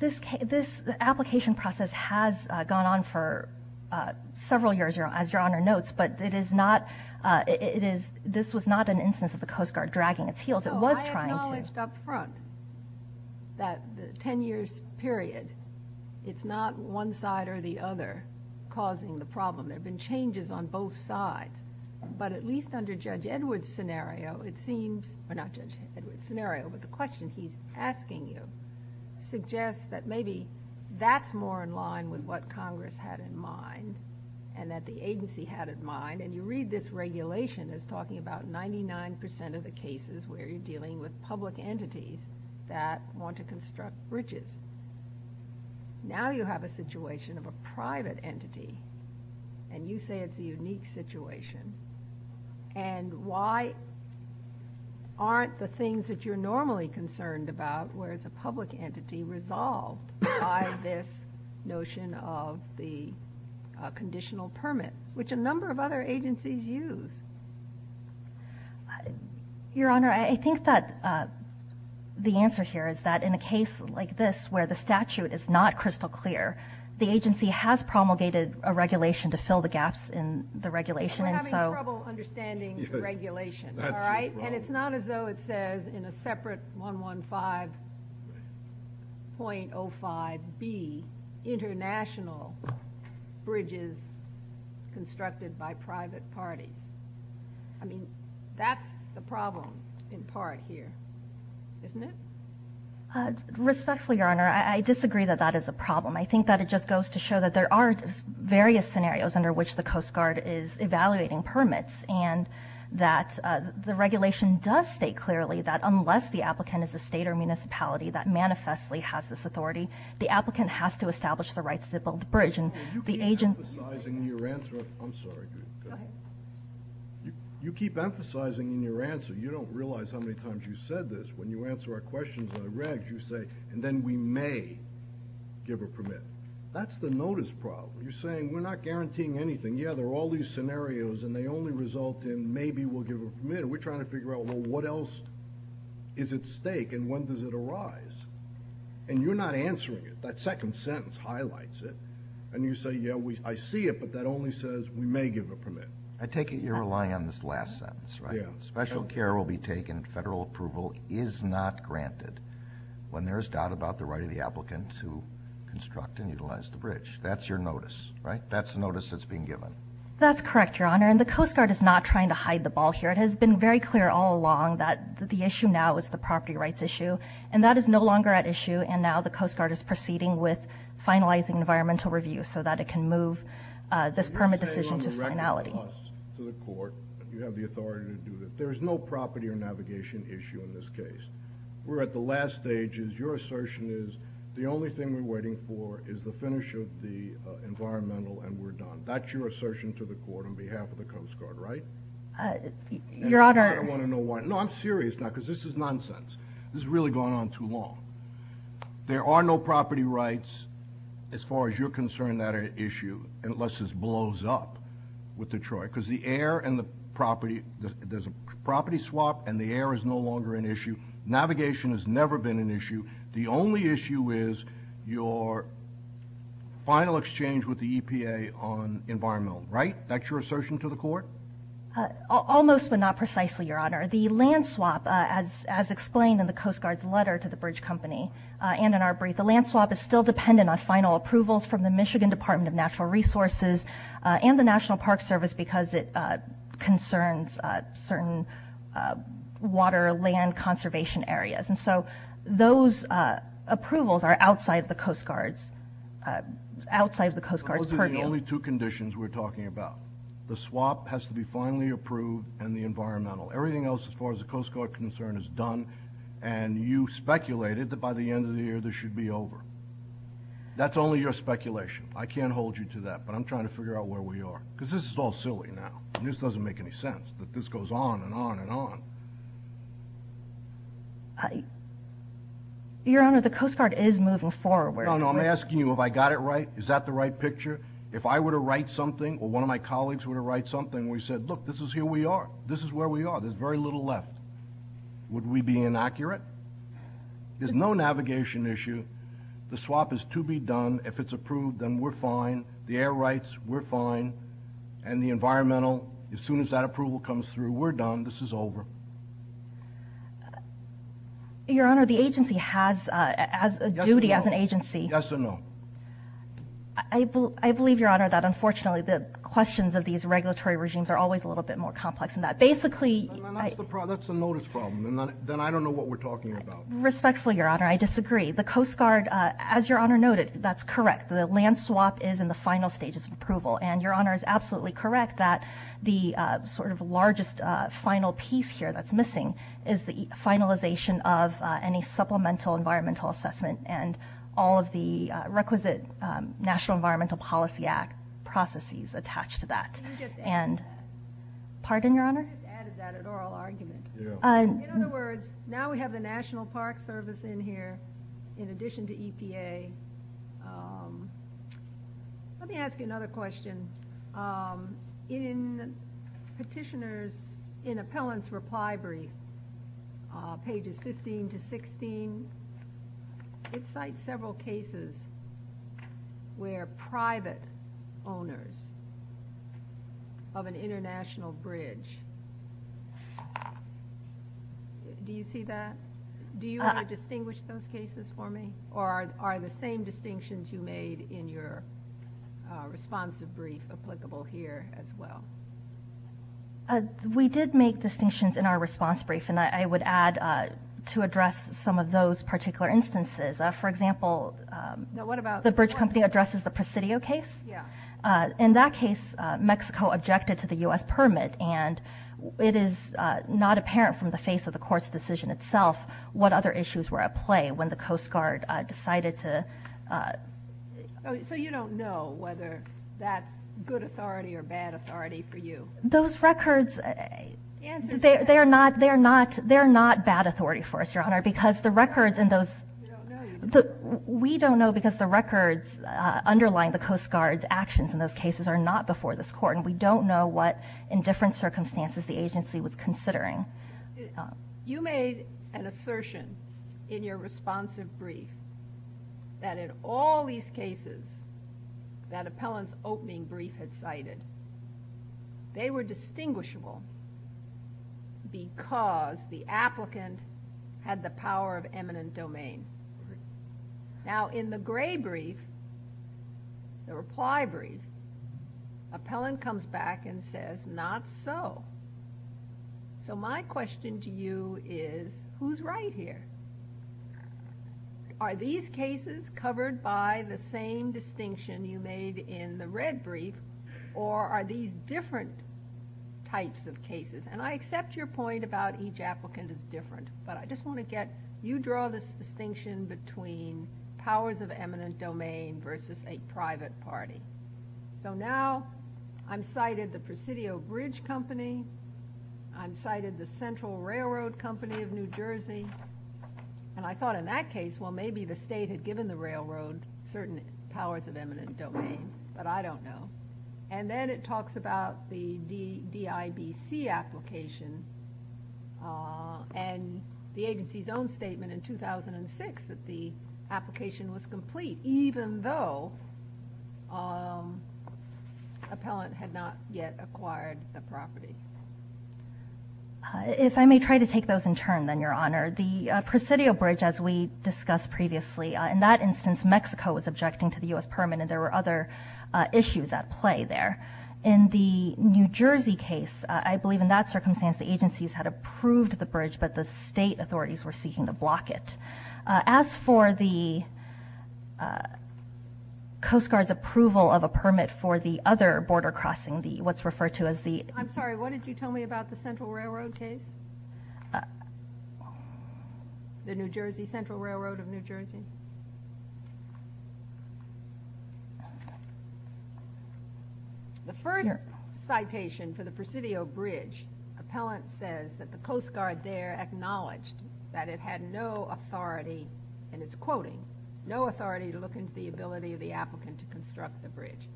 This application process has gone on for several years, as Your Honor notes, but this was not an instance of the Coast Guard dragging its heels. It was trying to... I acknowledged up front that the 10-year period, it's not one side or the other causing the problem. There have been changes on both sides. But at least under Judge Edward's scenario, it seems... suggests that maybe that's more in line with what Congress had in mind and that the agency had in mind, and you read this regulation as talking about 99% of the cases where you're dealing with public entities that want to construct bridges. Now you have a situation of a private entity, and you say it's a unique situation, and why aren't the things that you're normally concerned about, where it's a public entity, resolved by this notion of the conditional permit, which a number of other agencies use? Your Honor, I think that the answer here is that in a case like this where the statute is not crystal clear, the agency has promulgated a regulation to fill the gaps in the regulation. We're having trouble understanding the regulation, all right? And it's not as though it says in a separate 115.05B, international bridges constructed by private party. I mean, that's the problem in part here, isn't it? Respectfully, Your Honor, I disagree that that is a problem. I think that it just goes to show that there are various scenarios under which the Coast Guard is evaluating permits and that the regulation does state clearly that unless the applicant is a state or municipality that manifestly has this authority, the applicant has to establish the rights to build the bridge. You keep emphasizing in your answer. I'm sorry. You keep emphasizing in your answer. You don't realize how many times you've said this. When you answer our questions on the regs, you say, and then we may give a permit. That's the notice problem. You're saying we're not guaranteeing anything. You're saying, yeah, there are all these scenarios, and they only result in maybe we'll give a permit. We're trying to figure out, well, what else is at stake, and when does it arise? And you're not answering it. That second sentence highlights it. And you say, yeah, I see it, but that only says we may give a permit. I take it you're relying on this last sentence, right? Special care will be taken, federal approval is not granted when there is doubt about the right of the applicant to construct and utilize the bridge. That's your notice, right? That's the notice that's being given. That's correct, Your Honor, and the Coast Guard is not trying to hide the ball here. It has been very clear all along that the issue now is the property rights issue, and that is no longer at issue, and now the Coast Guard is proceeding with finalizing environmental review so that it can move this permit decision to its finality. You're saying when we write it to us, to the court, that you have the authority to do this. There is no property or navigation issue in this case. We're at the last stages. Your assertion is the only thing we're waiting for is the finish of the environmental and we're done. That's your assertion to the court on behalf of the Coast Guard, right? Your Honor. I want to know why. No, I'm serious now because this is nonsense. This has really gone on too long. There are no property rights as far as you're concerned that are at issue unless this blows up with Detroit because the air and the property, there's a property swap and the air is no longer an issue. Navigation has never been an issue. The only issue is your final exchange with the EPA on environmental, right? That's your assertion to the court? Almost, but not precisely, Your Honor. The land swap, as explained in the Coast Guard's letter to the Bridge Company and in our brief, the land swap is still dependent on final approvals from the Michigan Department of Natural Resources and the National Park Service because it concerns certain water and land conservation areas. Those approvals are outside the Coast Guard's purview. Those are the only two conditions we're talking about. The swap has to be finally approved and the environmental. Everything else as far as the Coast Guard is concerned is done and you speculated that by the end of the year this should be over. That's only your speculation. I can't hold you to that, but I'm trying to figure out where we are because this is all silly now. This doesn't make any sense, but this goes on and on and on. Your Honor, the Coast Guard is moving forward. I'm asking you if I got it right. Is that the right picture? If I were to write something or one of my colleagues were to write something where he said, look, this is who we are, this is where we are, there's very little left, would we be inaccurate? There's no navigation issue. The swap is to be done. If it's approved, then we're fine. The air rights, we're fine. The environmental, as soon as that approval comes through, we're done. This is over. Your Honor, the agency has a duty as an agency. Yes or no? I believe, Your Honor, that unfortunately the questions of these regulatory regimes are always a little bit more complex than that. That's a notice problem. Then I don't know what we're talking about. Respectfully, Your Honor, I disagree. The Coast Guard, as Your Honor noted, that's correct. The land swap is in the final stages of approval. Your Honor is absolutely correct that the sort of largest final piece here that's missing is the finalization of any supplemental environmental assessment and all of the requisite National Environmental Policy Act processes attached to that. Pardon, Your Honor? I just added that as oral argument. In other words, now we have the National Park Service in here in addition to EPA. Let me ask you another question. In Petitioner's, in Appellant's reply brief, pages 15 to 16, it cites several cases where private owners of an international bridge. Do you see that? Do you want to distinguish those cases for me or are the same distinctions you made in your responsive brief applicable here as well? We did make distinctions in our response brief, and I would add to address some of those particular instances. For example, the bridge company addresses the Presidio case. In that case, Mexico objected to the U.S. permit, and it is not apparent from the face of the Court's decision itself what other issues were at play when the Coast Guard decided to... So you don't know whether that's good authority or bad authority for you? Those records, they're not bad authority for us, Your Honor, because the records in those... We don't know because the records underlying the Coast Guard's actions in those cases are not before this Court, and we don't know what, in different circumstances, the agency was considering. You made an assertion in your responsive brief that in all these cases that appellant's opening brief had cited, they were distinguishable because the applicant had the power of eminent domain. Now in the gray brief, the reply brief, appellant comes back and says, not so. So my question to you is, who's right here? Are these cases covered by the same distinction you made in the red brief, or are these different types of cases? And I accept your point about each applicant is different, but I just want to get... You draw this distinction between powers of eminent domain versus a private party. So now I'm cited the Presidio Bridge Company. I'm cited the Central Railroad Company of New Jersey. And I thought in that case, well, maybe the state had given the railroad certain powers of eminent domain, but I don't know. And then it talks about the DIBC application, and the agency's own statement in 2006 that the application was complete, even though appellant had not yet acquired the property. If I may try to take those in turn then, Your Honor. The Presidio Bridge, as we discussed previously, in that instance Mexico was objecting to the U.S. permit, and there were other issues at play there. In the New Jersey case, I believe in that circumstance, the agencies had approved the bridge, but the state authorities were seeking to block it. As for the Coast Guard's approval of a permit for the other border crossing, what's referred to as the... I'm sorry, what did you tell me about the Central Railroad case? The New Jersey Central Railroad of New Jersey? The further citation for the Presidio Bridge, appellant says that the Coast Guard there acknowledged that it had no authority, and it's quoting, no authority to look into the ability of the applicant to construct the bridge.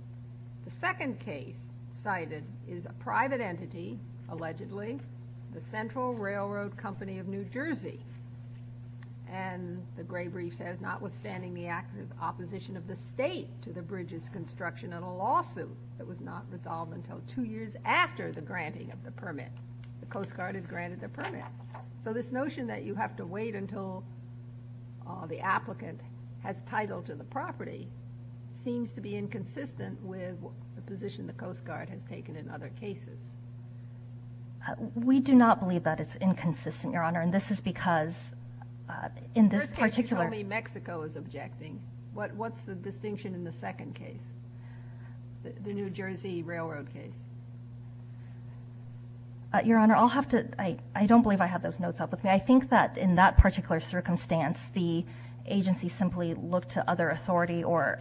The second case cited is a private entity, allegedly, the Central Railroad Company of New Jersey. And the gray brief says, notwithstanding the opposition of the state to the bridge's construction and a lawsuit that was not resolved until two years after the granting of the permit. The Coast Guard has granted the permit. So this notion that you have to wait until the applicant has title to the property seems to be inconsistent with the position the Coast Guard has taken in other cases. We do not believe that it's inconsistent, Your Honor, and this is because in this particular... First case you told me Mexico was objecting. What's the distinction in the second case, the New Jersey Railroad case? Your Honor, I'll have to... I don't believe I have those notes out with me. I think that in that particular circumstance, the agency simply looked to other authority or...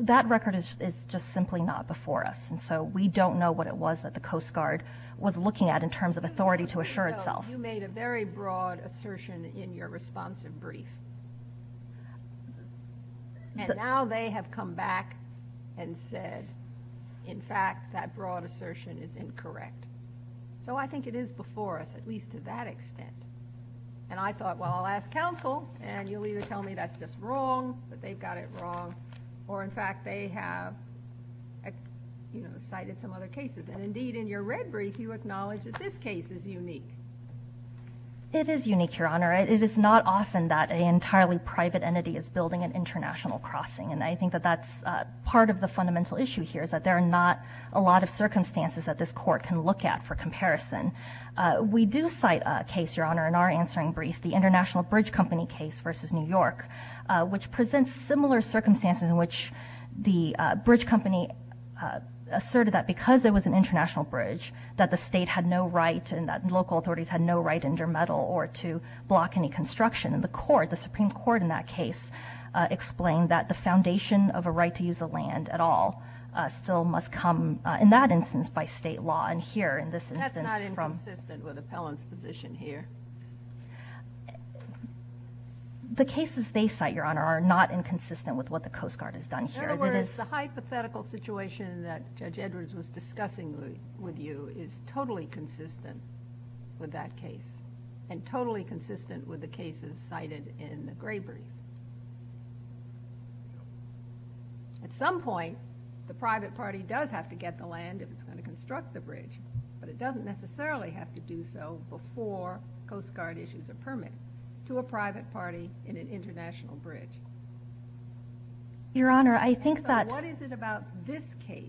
That record is just simply not before us, and so we don't know what it was that the Coast Guard was looking at in terms of authority to assure itself. You made a very broad assertion in your responsive brief, and now they have come back and said, in fact, that broad assertion is incorrect. So I think it is before us, at least to that extent. And I thought, well, I'll ask counsel, and you'll either tell me that's just wrong, that they've got it wrong, or, in fact, they have cited some other cases. Indeed, in your red brief, you acknowledge that this case is unique. It is unique, Your Honor. It is not often that an entirely private entity is building an international crossing, and I think that that's part of the fundamental issue here, that there are not a lot of circumstances that this court can look at for comparison. We do cite a case, Your Honor, in our answering brief, the International Bridge Company case versus New York, which presents similar circumstances in which the bridge company asserted that because there was an international bridge, that the state had no right and that local authorities had no right to intermeddle or to block any construction. And the Supreme Court in that case explained that the foundation of a right to use the land at all still must come, in that instance, by state law. That's not inconsistent with Appellant's position here. The cases they cite, Your Honor, are not inconsistent with what the Coast Guard has done here. In other words, the hypothetical situation that Judge Edwards was discussing with you is totally consistent with that case and totally consistent with the cases cited in the gray brief. At some point, the private party does have to get the land if it's going to construct the bridge, but it doesn't necessarily have to do so before Coast Guard issues a permit to a private party in an international bridge. Your Honor, I think that... What is it about this case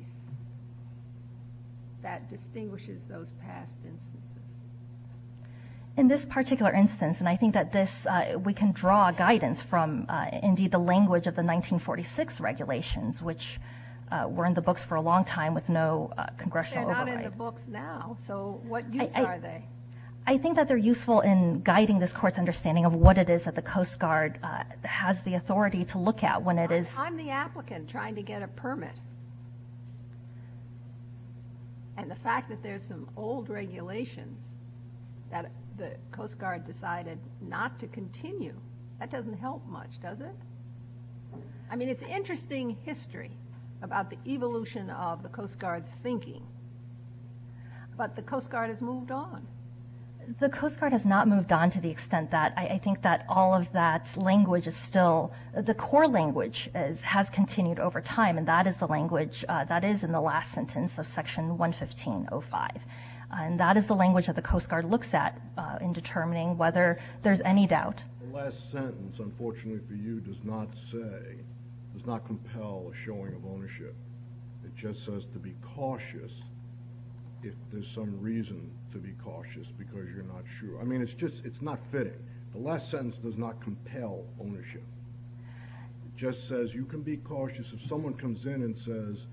that distinguishes those past instances? In this particular instance, and I think that we can draw guidance from, indeed, the language of the 1946 regulations, which were in the books for a long time with no congressional oversight. They're not in the books now, so what use are they? I think that they're useful in guiding this Court's understanding of what it is that the Coast Guard has the authority to look at when it is... On the applicant trying to get a permit and the fact that there's some old regulations that the Coast Guard decided not to continue, that doesn't help much, does it? I mean, it's interesting history about the evolution of the Coast Guard's thinking, but the Coast Guard has moved on. The Coast Guard has not moved on to the extent that I think that all of that language is still... The core language has continued over time, and that is the language... That is in the last sentence of Section 115.05, and that is the language that the Coast Guard looks at in determining whether there's any doubt. The last sentence, unfortunately for you, does not say, does not compel a showing of ownership. It just says to be cautious if there's some reason to be cautious because you're not sure. I mean, it's just not fitting. The last sentence does not compel ownership. It just says you can be cautious if someone comes in and says,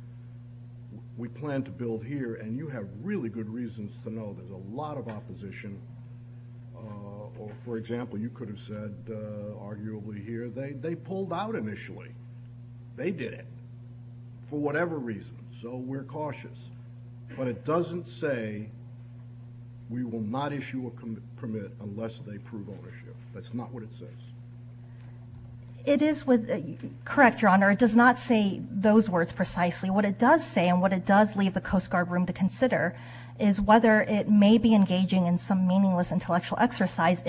we plan to build here, and you have really good reasons to know there's a lot of opposition. For example, you could have said, arguably here, they pulled out initially. They did it. For whatever reason, so we're cautious. But it doesn't say we will not issue a permit unless they prove ownership. That's not what it says. It is correct, Your Honor. It does not say those words precisely. What it does say and what it does leave the Coast Guard room to consider is whether it may be engaging in some meaningless intellectual exercise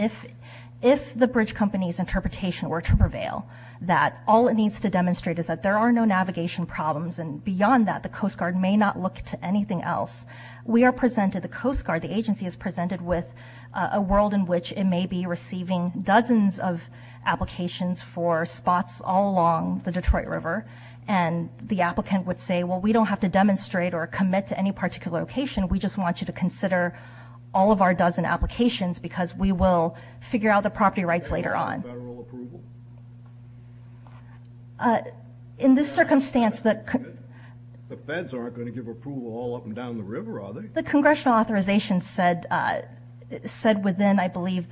if the bridge company's interpretation were to prevail, that all it needs to demonstrate is that there are no navigation problems, and beyond that the Coast Guard may not look to anything else. We are presented, the Coast Guard, the agency is presented with a world in which it may be receiving dozens of applications for spots all along the Detroit River, and the applicant would say, well, we don't have to demonstrate or commit to any particular location. We just want you to consider all of our dozen applications because we will figure out the property rights later on. In this circumstance, the feds aren't going to give approval all up and down the river, are they? The congressional authorization said within, I believe,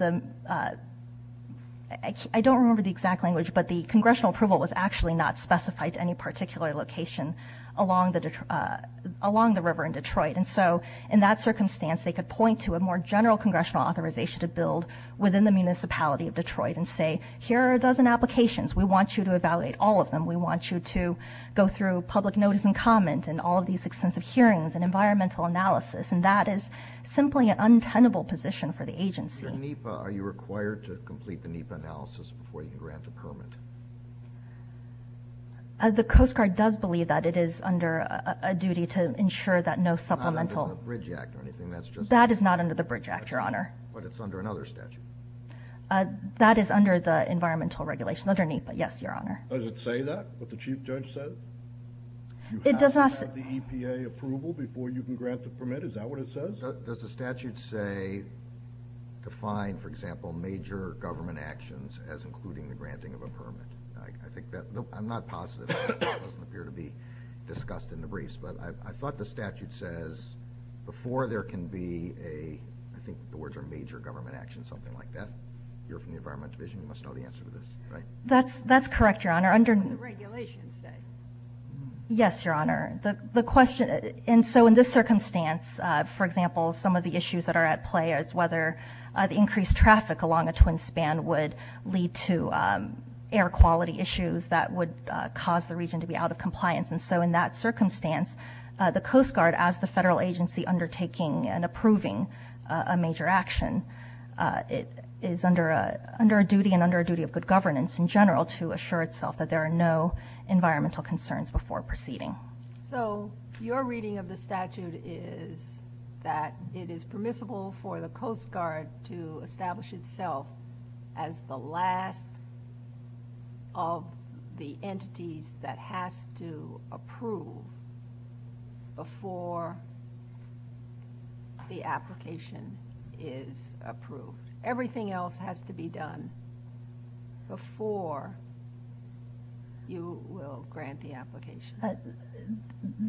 I don't remember the exact language, but the congressional approval was actually not specified to any particular location along the river in Detroit. And so in that circumstance, they could point to a more general congressional authorization to build within the municipality of Detroit and say, here are a dozen applications. We want you to evaluate all of them. We want you to go through public notice and comment and all of these extensive hearings and environmental analysis, and that is simply an untenable position for the agency. Mr. NEPA, are you required to complete the NEPA analysis before you can grant the permit? The Coast Guard does believe that it is under a duty to ensure that no supplemental Not under the Bridge Act or anything, that's just That is not under the Bridge Act, Your Honor. But it's under another statute. That is under the environmental regulation under NEPA, yes, Your Honor. Does it say that, what the Chief Judge said? It does not say You have to have the EPA approval before you can grant the permit. Is that what it says? Does the statute say, define, for example, major government actions as including the granting of a permit? I'm not positive that doesn't appear to be discussed in the briefs, but I thought the statute says before there can be a I think the words are major government actions, something like that. If you're from the Environment Division, you must know the answer to this. That's correct, Your Honor. Under the regulations, then. Yes, Your Honor. The question, and so in this circumstance, for example, some of the issues that are at play is whether the increased traffic along the Twin Span would lead to air quality issues that would cause the region to be out of compliance. And so in that circumstance, the Coast Guard, as the federal agency undertaking and approving a major action, is under a duty and under a duty of good governance in general to assure itself that there are no environmental concerns before proceeding. So your reading of the statute is that it is permissible for the Coast Guard to establish itself as the last of the entities that have to approve before the application is approved. Everything else has to be done before you will grant the application.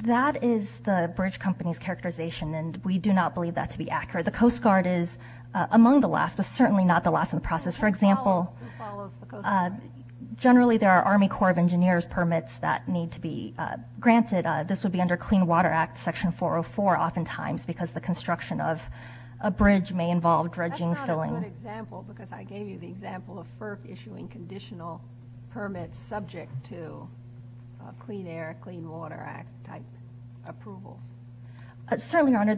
That is the bridge company's characterization, and we do not believe that to be accurate. The Coast Guard is among the last, but certainly not the last in the process. For example, generally there are Army Corps of Engineers permits that need to be granted. This would be under Clean Water Act Section 404 oftentimes because the construction of a bridge may involve dredging, filling. I thought it was an example because I gave you the example of FERC issuing conditional permits subject to Clean Air, Clean Water Act type approval. Certainly, Your Honor.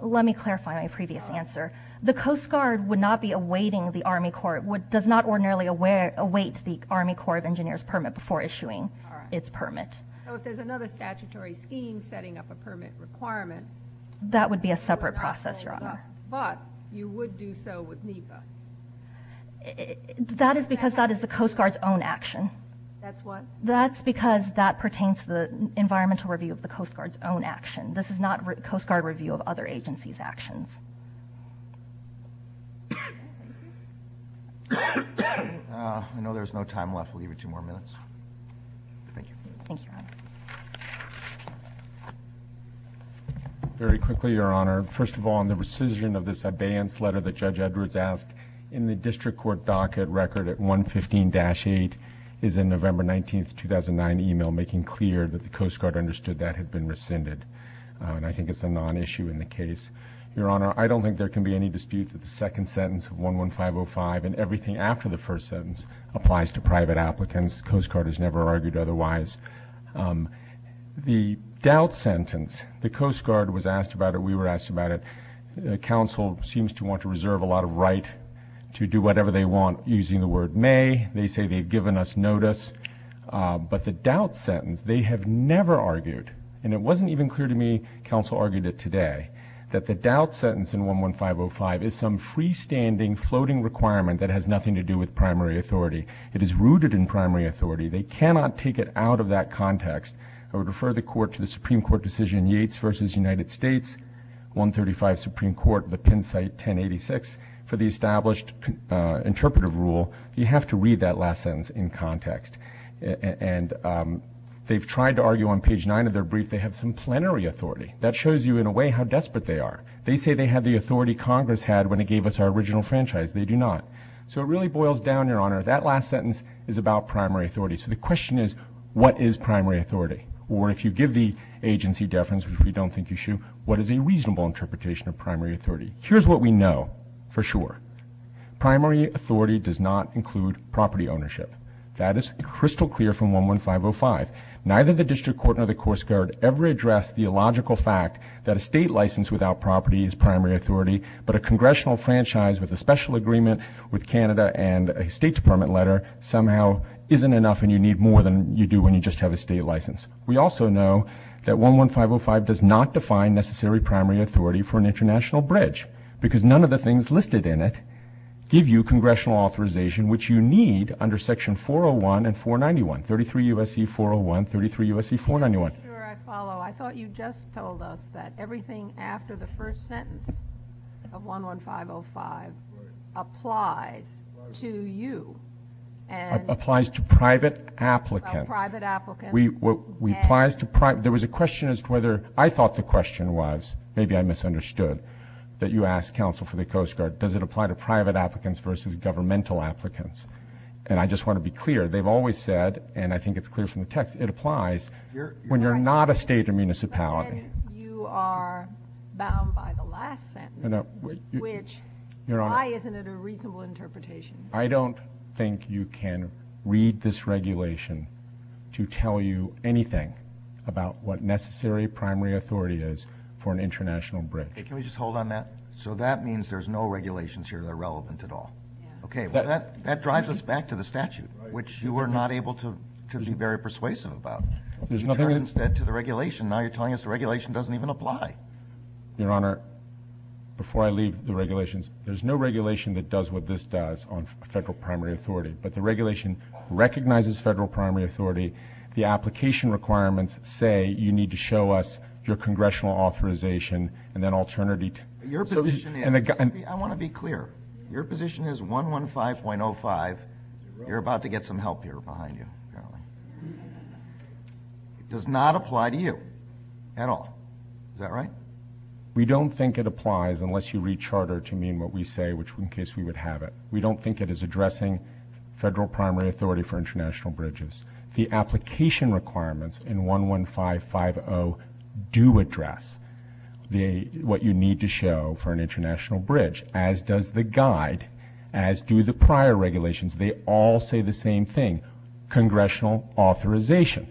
Let me clarify my previous answer. The Coast Guard would not be awaiting the Army Corps, does not ordinarily await the Army Corps of Engineers permit before issuing its permit. So if there's another statutory scheme setting up a permit requirement. That would be a separate process, Your Honor. But you would do so with NEPA. That is because that is the Coast Guard's own action. That's what? That's because that pertains to the environmental review of the Coast Guard's own action. This is not Coast Guard review of other agencies' actions. I know there's no time left. We'll give you two more minutes. Thank you. Thank you, Your Honor. Very quickly, Your Honor. First of all, in the rescission of this abeyance letter that Judge Edwards asked, in the District Court docket record at 115-8 is a November 19, 2009, making clear that the Coast Guard understood that had been rescinded. I think it's a non-issue in the case. Your Honor, I don't think there can be any dispute that the second sentence, 115-05, and everything after the first sentence applies to private applicants. The Coast Guard has never argued otherwise. The doubt sentence, the Coast Guard was asked about it. We were asked about it. The counsel seems to want to reserve a lot of right to do whatever they want using the word may. They say they've given us notice. But the doubt sentence, they have never argued, and it wasn't even clear to me counsel argued it today, that the doubt sentence in 115-05 is some freestanding floating requirement that has nothing to do with primary authority. It is rooted in primary authority. They cannot take it out of that context. I would refer the Court to the Supreme Court decision, Yates v. United States, 135, Supreme Court, the Penn site, 1086, for the established interpretive rule. You have to read that last sentence in context. And they've tried to argue on page 9 of their brief they have some plenary authority. That shows you in a way how desperate they are. They say they have the authority Congress had when it gave us our original franchise. They do not. So it really boils down, Your Honor, that last sentence is about primary authority. So the question is, what is primary authority? Or if you give the agency deference, which we don't think you should, what is a reasonable interpretation of primary authority? Here's what we know for sure. Primary authority does not include property ownership. That is crystal clear from 11505. Neither the District Court nor the Courts Guard ever addressed the illogical fact that a state license without property is primary authority, but a congressional franchise with a special agreement with Canada and a State Department letter somehow isn't enough and you need more than you do when you just have a state license. We also know that 11505 does not define necessary primary authority for an international bridge because none of the things listed in it give you congressional authorization, which you need under Section 401 and 491. 33 U.S.C. 401, 33 U.S.C. 491. Your Honor, I follow. I thought you just told us that everything after the first sentence of 11505 applies to you. It applies to private applicants. There was a question as to whether I thought the question was, maybe I misunderstood, that you asked counsel for the Coast Guard. Does it apply to private applicants versus governmental applicants? And I just want to be clear. They've always said, and I think it's clear from the text, it applies when you're not a state or municipality. You are bound by the last sentence, which, why isn't it a reasonable interpretation? I don't think you can read this regulation to tell you anything about what necessary primary authority is for an international bridge. Can we just hold on that? So that means there's no regulations here that are relevant at all. Okay. That drives us back to the statute, which you were not able to be very persuasive about. You turned instead to the regulation. Now you're telling us the regulation doesn't even apply. Your Honor, before I leave the regulations, there's no regulation that does what this does on federal primary authority. But the regulation recognizes federal primary authority. The application requirements say you need to show us your congressional authorization and then alternatively to your position. I want to be clear. Your position is 115.05. You're about to get some help here behind you. It does not apply to you at all. Is that right? We don't think it applies unless you read charter to mean what we say, which in case we would have it. We don't think it is addressing federal primary authority for international bridges. The application requirements in 115.05 do address what you need to show for an international bridge, as does the guide, as do the prior regulations. They all say the same thing, congressional authorization.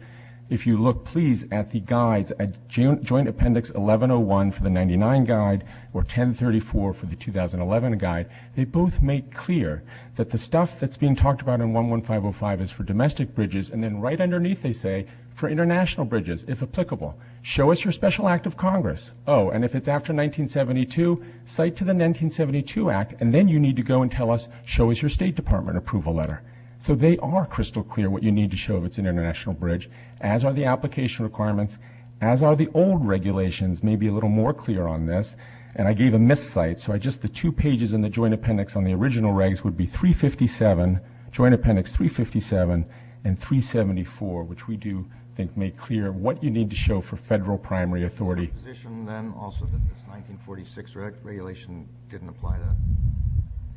If you look, please, at the guides, Joint Appendix 1101 for the 1999 guide or 1034 for the 2011 guide, they both make clear that the stuff that's being talked about in 115.05 is for domestic bridges, and then right underneath they say for international bridges, if applicable, show us your special act of Congress. Oh, and if it's after 1972, cite to the 1972 act, and then you need to go and tell us, show us your State Department approval letter. So they are crystal clear what you need to show if it's an international bridge, as are the application requirements, as are the old regulations, maybe a little more clear on this. And I gave a missed cite, so just the two pages in the Joint Appendix on the original regs would be 357, Joint Appendix 357, and 374, which we do, I think, make clear what you need to show for federal primary authority. Is it your position, then, also that the 1946 regulation didn't apply to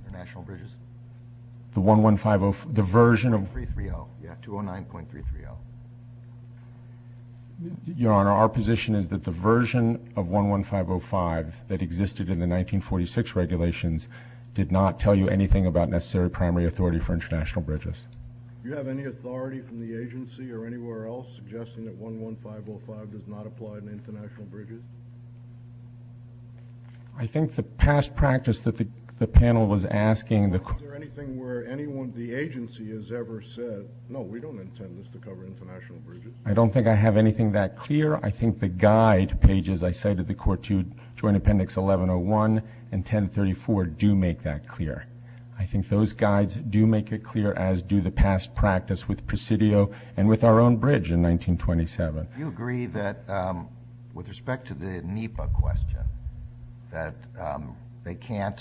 international bridges? The 1150, the version of... 330, yeah, 209.330. Your Honor, our position is that the version of 11505 that existed in the 1946 regulations did not tell you anything about necessary primary authority for international bridges. Do you have any authority from the agency or anywhere else suggesting that 11505 does not apply to international bridges? I think the past practice that the panel was asking... Is there anything where anyone at the agency has ever said, no, we don't intend this to cover international bridges? I don't think I have anything that clear. I think the guide pages I cited, the Court Joint Appendix 1101 and 1034, do make that clear. I think those guides do make it clear, as do the past practice with Presidio and with our own bridge in 1927. Do you agree that, with respect to the NEPA question, that they can't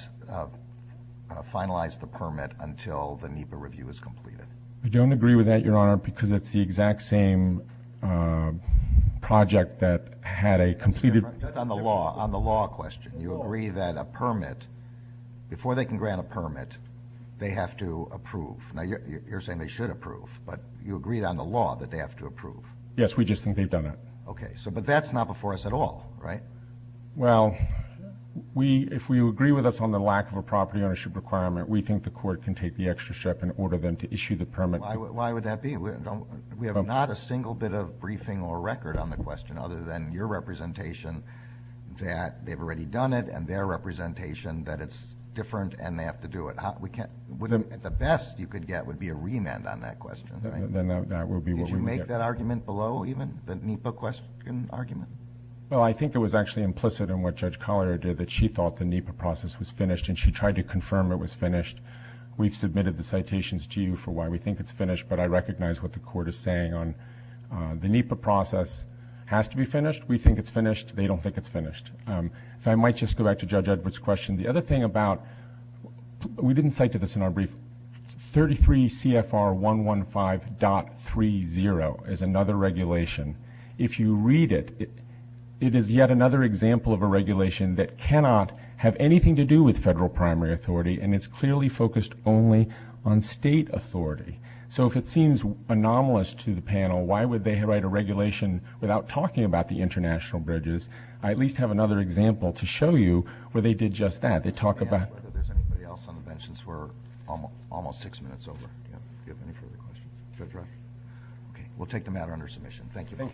finalize the permit until the NEPA review is completed? We don't agree with that, Your Honor, because it's the exact same project that had a completed... On the law question, you agree that a permit, before they can grant a permit, they have to approve. Now, you're saying they should approve, but you agree on the law that they have to approve. Yes, we just think they've done it. Okay, but that's not before us at all, right? Well, if we agree with us on the lack of a property ownership requirement, we think the Court can take the extra step and order them to issue the permit. Why would that be? We have not a single bit of briefing or record on the question, other than your representation, that they've already done it, and their representation that it's different and they have to do it. The best you could get would be a remand on that question. Did you make that argument below, even, the NEPA question argument? Well, I think it was actually implicit in what Judge Collier did, that she thought the NEPA process was finished, and she tried to confirm it was finished. We've submitted the citations to you for why we think it's finished, but I recognize what the Court is saying on the NEPA process has to be finished. We think it's finished. They don't think it's finished. So I might just go back to Judge Edwards' question. The other thing about – we didn't cite this in our brief. 33 CFR 115.30 is another regulation. If you read it, it is yet another example of a regulation that cannot have anything to do with federal primary authority, and it's clearly focused only on state authority. So if it seems anomalous to the panel, why would they write a regulation without talking about the international bridges? I at least have another example to show you where they did just that. They talk about – I don't know if there's anybody else on the bench. We're almost six minutes over. Do you have any further questions? We'll take the matter under submission. Thank you.